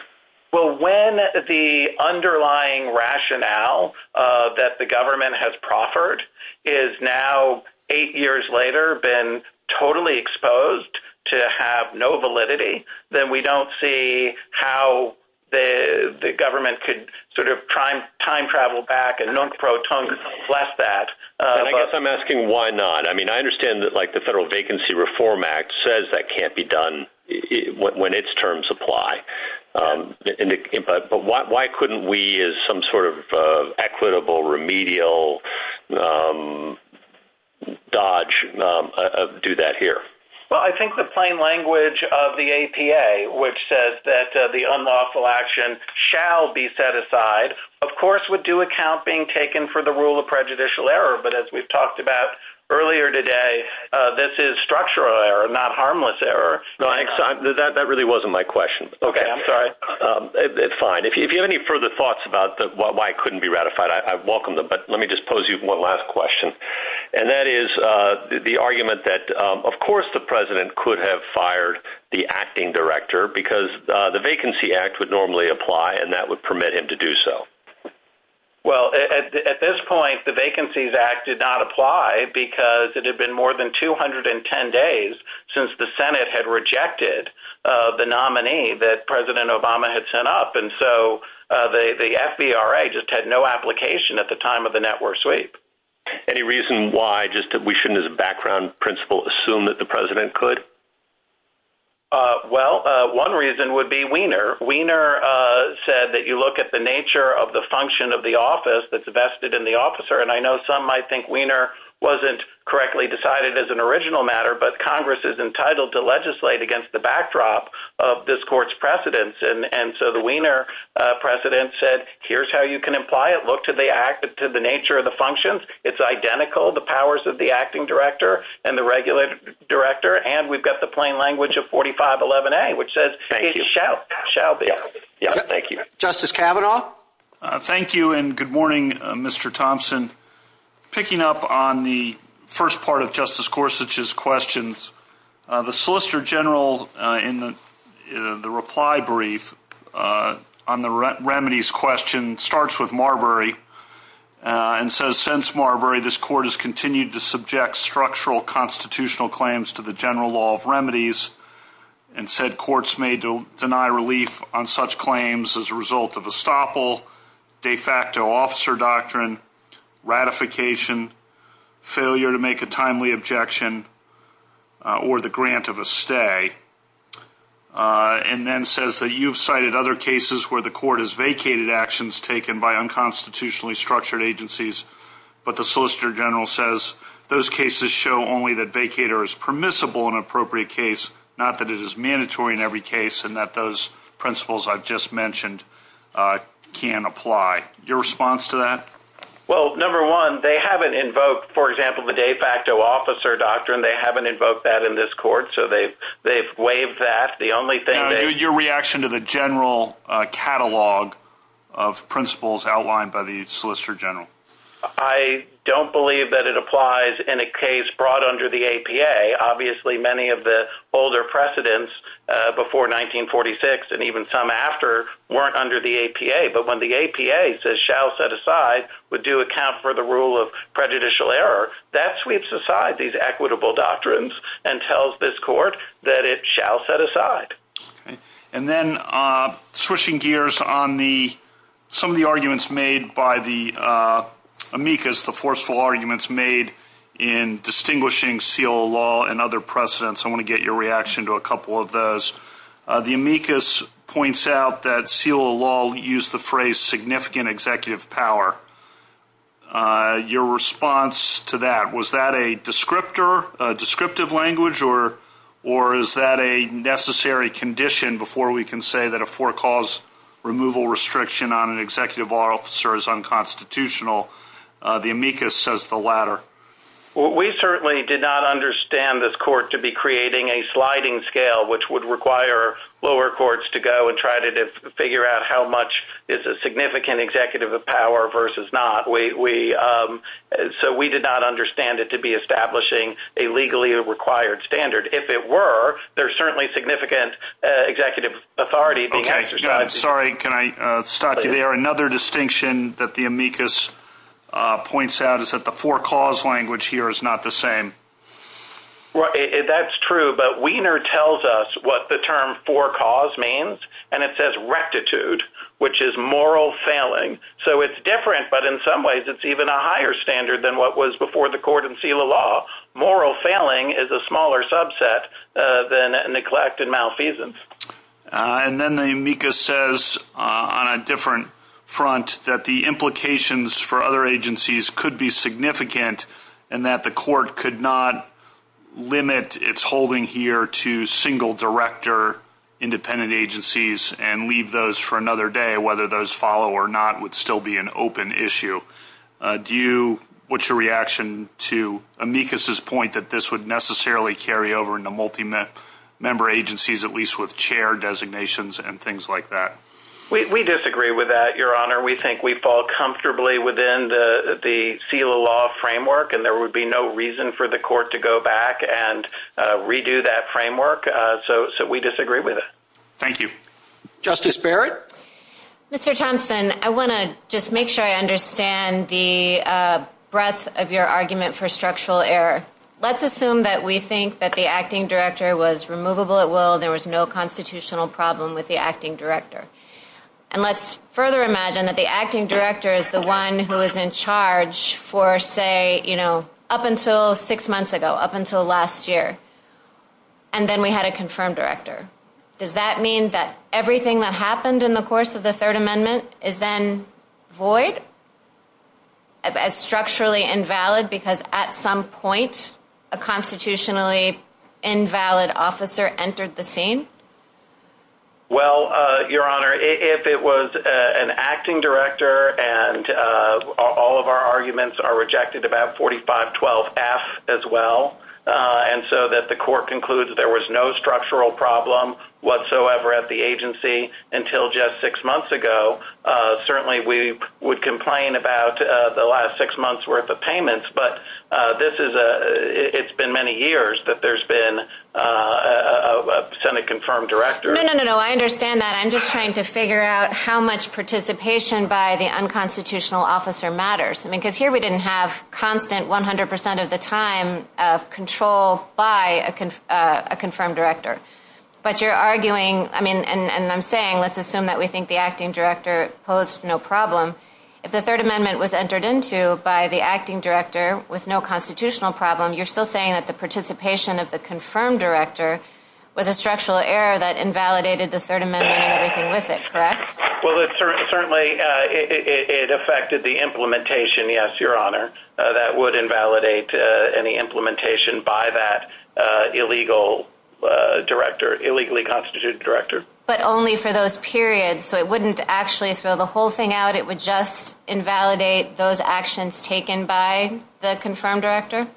Well, when the underlying rationale that the government has proffered is now eight years later, been totally exposed to have no validity, then we don't see how the government could sort of time travel back and nunk pro tung plus that. I guess I'm asking why not? I mean, I understand that the Federal Vacancy Reform Act says that can't be done when its terms apply. But why couldn't we as some sort of equitable remedial dodge do that here? Well, I think the plain language of the APA, which says that the unlawful action shall be set aside, of course, would do account being taken for the rule of prejudicial error. But as we've talked about earlier today, this is structural error, not harmless error. That really wasn't my question. Okay. I'm sorry. It's fine. If you have any further thoughts about why it couldn't be ratified, I welcome them. But let me just pose you one last question. And that is the argument that, of course, the president could have fired the acting director because the Vacancy Act would normally apply, and that would permit him to do so. Well, at this point, the Vacancies Act did not apply because it had been more than 210 days since the Senate had rejected the nominee that President Obama had sent up. And so the FVRA just had no application at the time of the network sweep. Any reason why just that we shouldn't, as a background principle, assume that the president could? Wiener said that you look at the nature of the function of the office that's vested in the officer. And I know some might think Wiener wasn't correctly decided as an original matter, but Congress is entitled to legislate against the backdrop of this court's precedents. And so the Wiener precedent said, here's how you can apply it. Look to the nature of the functions. It's identical, the powers of the acting director and the regular director. And we've got the plain language of 4511A, which says it shall be. Thank you. Justice Kavanaugh? Thank you, and good morning, Mr. Thompson. Picking up on the first part of Justice Gorsuch's questions, the Solicitor General in the reply brief on the remedies question starts with Marbury and says, Since Marbury, this court has continued to subject structural constitutional claims to the general law of remedies and said courts may deny relief on such claims as a result of estoppel, de facto officer doctrine, ratification, failure to make a timely objection, or the grant of a stay. And then says that you've cited other cases where the court has vacated actions taken by unconstitutionally structured agencies, but the Solicitor General says those cases show only that vacater is permissible in an appropriate case, not that it is mandatory in every case and that those principles I've just mentioned can apply. Your response to that? Well, number one, they haven't invoked, for example, the de facto officer doctrine. They haven't invoked that in this court, so they've waived that. The only thing that— Your reaction to the general catalog of principles outlined by the Solicitor General? I don't believe that it applies in a case brought under the APA. And then switching gears on some of the arguments made by the amicus, the forceful arguments made in distinguishing seal of law and other precedents, I want to get your reaction to a couple of those. The amicus points out that seal of law used the phrase significant executive power. Your response to that? Was that a descriptor, a descriptive language, or is that a necessary condition before we can say that a four-cause removal restriction on an executive law officer is unconstitutional? The amicus says the latter. We certainly did not understand this court to be creating a sliding scale, which would require lower courts to go and try to figure out how much is a significant executive of power versus not. So we did not understand it to be establishing a legally required standard. If it were, there's certainly significant executive authority being exercised. Sorry, can I stop you there? Another distinction that the amicus points out is that the four-cause language here is not the same. That's true, but Wiener tells us what the term four-cause means, and it says rectitude, which is moral failing. So it's different, but in some ways it's even a higher standard than what was before the court in seal of law. Moral failing is a smaller subset than neglect and malfeasance. And then the amicus says on a different front that the implications for other agencies could be significant, and that the court could not limit its holding here to single director independent agencies and leave those for another day, whether those follow or not would still be an open issue. Do you put your reaction to amicus's point that this would necessarily carry over into multi-member agencies, at least with chair designations and things like that? We disagree with that, Your Honor. We think we fall comfortably within the seal of law framework, and there would be no reason for the court to go back and redo that framework. So we disagree with it. Thank you. Justice Barrett? Mr. Thompson, I want to just make sure I understand the breadth of your argument for structural error. Let's assume that we think that the acting director was removable at will, there was no constitutional problem with the acting director. And let's further imagine that the acting director is the one who is in charge for, say, you know, up until six months ago, up until last year, and then we had a confirmed director. Does that mean that everything that happened in the course of the Third Amendment is then void, is structurally invalid because at some point a constitutionally invalid officer entered the scene? Well, Your Honor, if it was an acting director and all of our arguments are rejected about 4512F as well, and so that the court concludes there was no structural problem whatsoever at the agency until just six months ago, certainly we would complain about the last six months' worth of payments. But this is a – it's been many years that there's been a Senate-confirmed director. No, no, no, I understand that. I'm just trying to figure out how much participation by the unconstitutional officer matters. I mean, because here we didn't have constant, 100 percent of the time, control by a confirmed director. But you're arguing – I mean, and I'm saying let's assume that we think the acting director posed no problem. If the Third Amendment was entered into by the acting director with no constitutional problem, you're still saying that the participation of the confirmed director was a structural error that invalidated the Third Amendment and everything with it, correct? Well, certainly it affected the implementation, yes, Your Honor, that would invalidate any implementation by that illegal director, illegally constituted director. But only for those periods, so it wouldn't actually throw the whole thing out? It would just invalidate those actions taken by the confirmed director?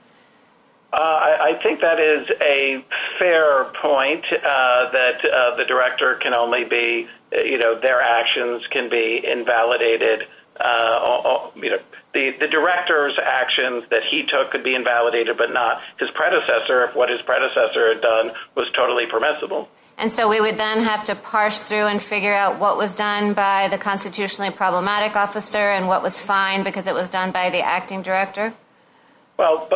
I think that is a fair point, that the director can only be – their actions can be invalidated. The director's actions that he took could be invalidated but not his predecessor, if what his predecessor had done was totally permissible. And so we would then have to parse through and figure out what was done by the constitutionally problematic officer and what was fine because it was done by the acting director? Well,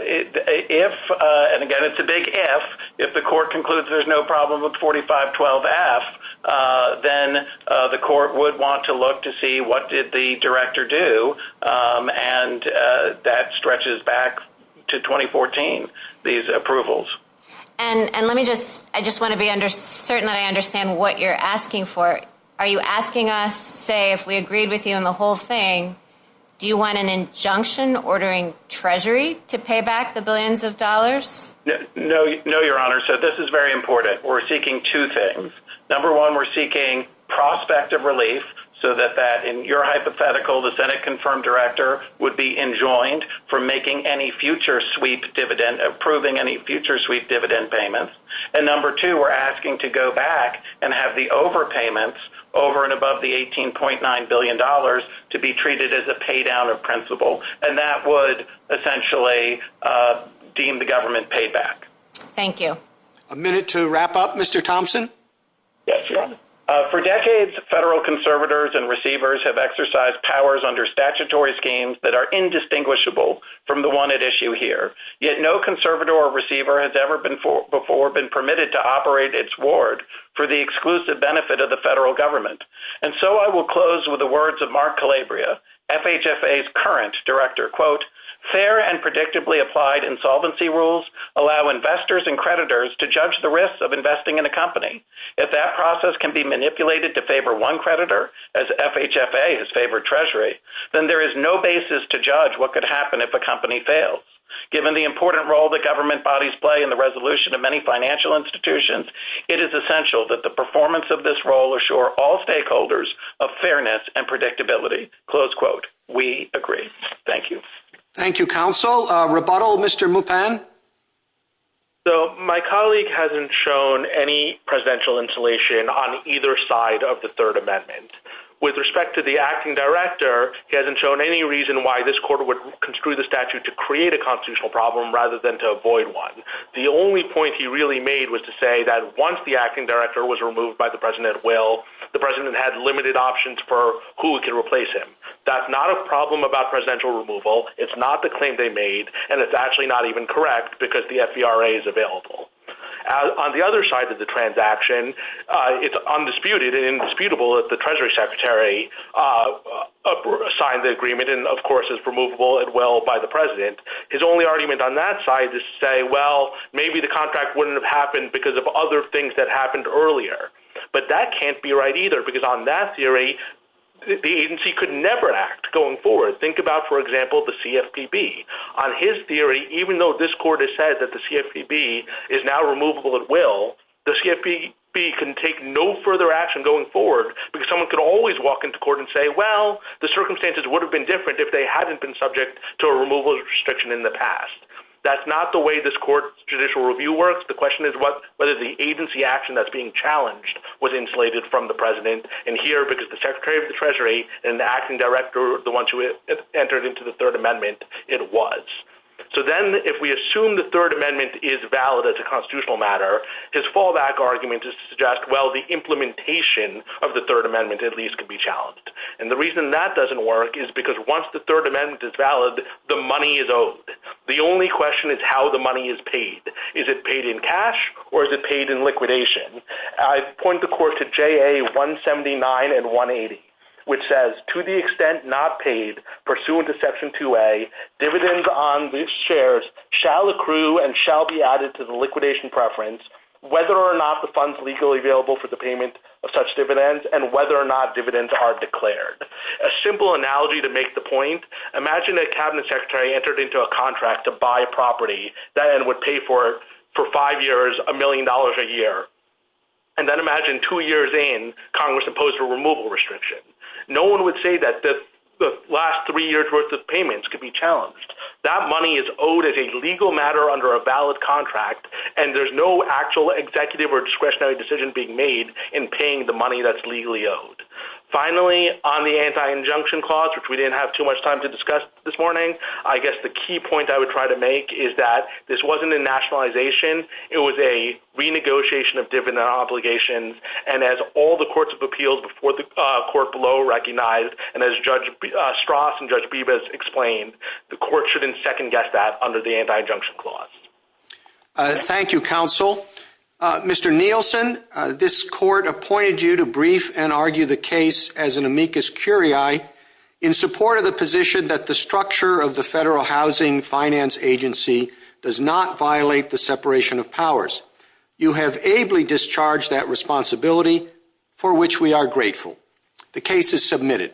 if – and again, it's a big if – if the court concludes there's no problem with 45-12-F, then the court would want to look to see what did the director do, and that stretches back to 2014, these approvals. And let me just – I just want to be certain that I understand what you're asking for. Are you asking us, say, if we agreed with you on the whole thing, do you want an injunction ordering Treasury to pay back the billions of dollars? No, Your Honor, so this is very important. We're seeking two things. Number one, we're seeking prospect of relief so that that, in your hypothetical, the Senate confirmed director would be enjoined from making any future sweep dividend – approving any future sweep dividend payments. And number two, we're asking to go back and have the overpayments over and above the $18.9 billion to be treated as a paydown of principle, and that would essentially deem the government payback. Thank you. A minute to wrap up, Mr. Thompson. Yes, Your Honor. For decades, federal conservators and receivers have exercised powers under statutory schemes that are indistinguishable from the one at issue here, yet no conservator or receiver has ever before been permitted to operate its ward for the exclusive benefit of the federal government. And so I will close with the words of Mark Calabria, FHFA's current director, quote, fair and predictably applied insolvency rules allow investors and creditors to judge the risks of investing in a company. If that process can be manipulated to favor one creditor, as FHFA has favored Treasury, then there is no basis to judge what could happen if a company fails. Given the important role that government bodies play in the resolution of many financial institutions, it is essential that the performance of this role assure all stakeholders of fairness and predictability. Close quote. We agree. Thank you. Thank you, counsel. Rebuttal, Mr. Mupan. So my colleague hasn't shown any presidential insulation on either side of the Third Amendment. With respect to the acting director, he hasn't shown any reason why this court would construe the statute to create a constitutional problem rather than to avoid one. The only point he really made was to say that once the acting director was removed by the president at will, the president had limited options for who could replace him. That's not a problem about presidential removal. It's not the claim they made, and it's actually not even correct because the FVRA is available. On the other side of the transaction, it's undisputed and indisputable that the Treasury Secretary signed the agreement and, of course, is removable at will by the president. His only argument on that side is to say, well, maybe the contract wouldn't have happened because of other things that happened earlier. But that can't be right either because on that theory, the agency could never act going forward. Think about, for example, the CFPB. On his theory, even though this court has said that the CFPB is now removable at will, the CFPB can take no further action going forward because someone could always walk into court and say, well, the circumstances would have been different if they hadn't been subject to a removal restriction in the past. That's not the way this court's judicial review works. The question is whether the agency action that's being challenged was insulated from the president, and here, because the Secretary of the Treasury and the acting director are the ones who entered into the Third Amendment, it was. So then if we assume the Third Amendment is valid as a constitutional matter, his fallback argument is to suggest, well, the implementation of the Third Amendment at least could be challenged. And the reason that doesn't work is because once the Third Amendment is valid, the money is owed. The only question is how the money is paid. Is it paid in cash or is it paid in liquidation? I point the court to JA 179 and 180, which says, to the extent not paid pursuant to Section 2A, dividends on these shares shall accrue and shall be added to the liquidation preference whether or not the funds legally available for the payment of such dividends and whether or not dividends are declared. A simple analogy to make the point, imagine a cabinet secretary entered into a contract to buy property that would pay for it for five years a million dollars a year, and then imagine two years in Congress imposed a removal restriction. No one would say that the last three years' worth of payments could be challenged. That money is owed as a legal matter under a valid contract, and there's no actual executive or discretionary decision being made in paying the money that's legally owed. Finally, on the anti-injunction clause, which we didn't have too much time to discuss this morning, I guess the key point I would try to make is that this wasn't a nationalization. It was a renegotiation of dividend obligation, and as all the courts of appeals before the court below recognized, and as Judge Strauss and Judge Bibas explained, the court shouldn't second-guess that under the anti-injunction clause. Thank you, counsel. Mr. Nielsen, this court appointed you to brief and argue the case as an amicus curiae in support of the position that the structure of the Federal Housing Finance Agency does not violate the separation of powers. You have ably discharged that responsibility, for which we are grateful. The case is submitted.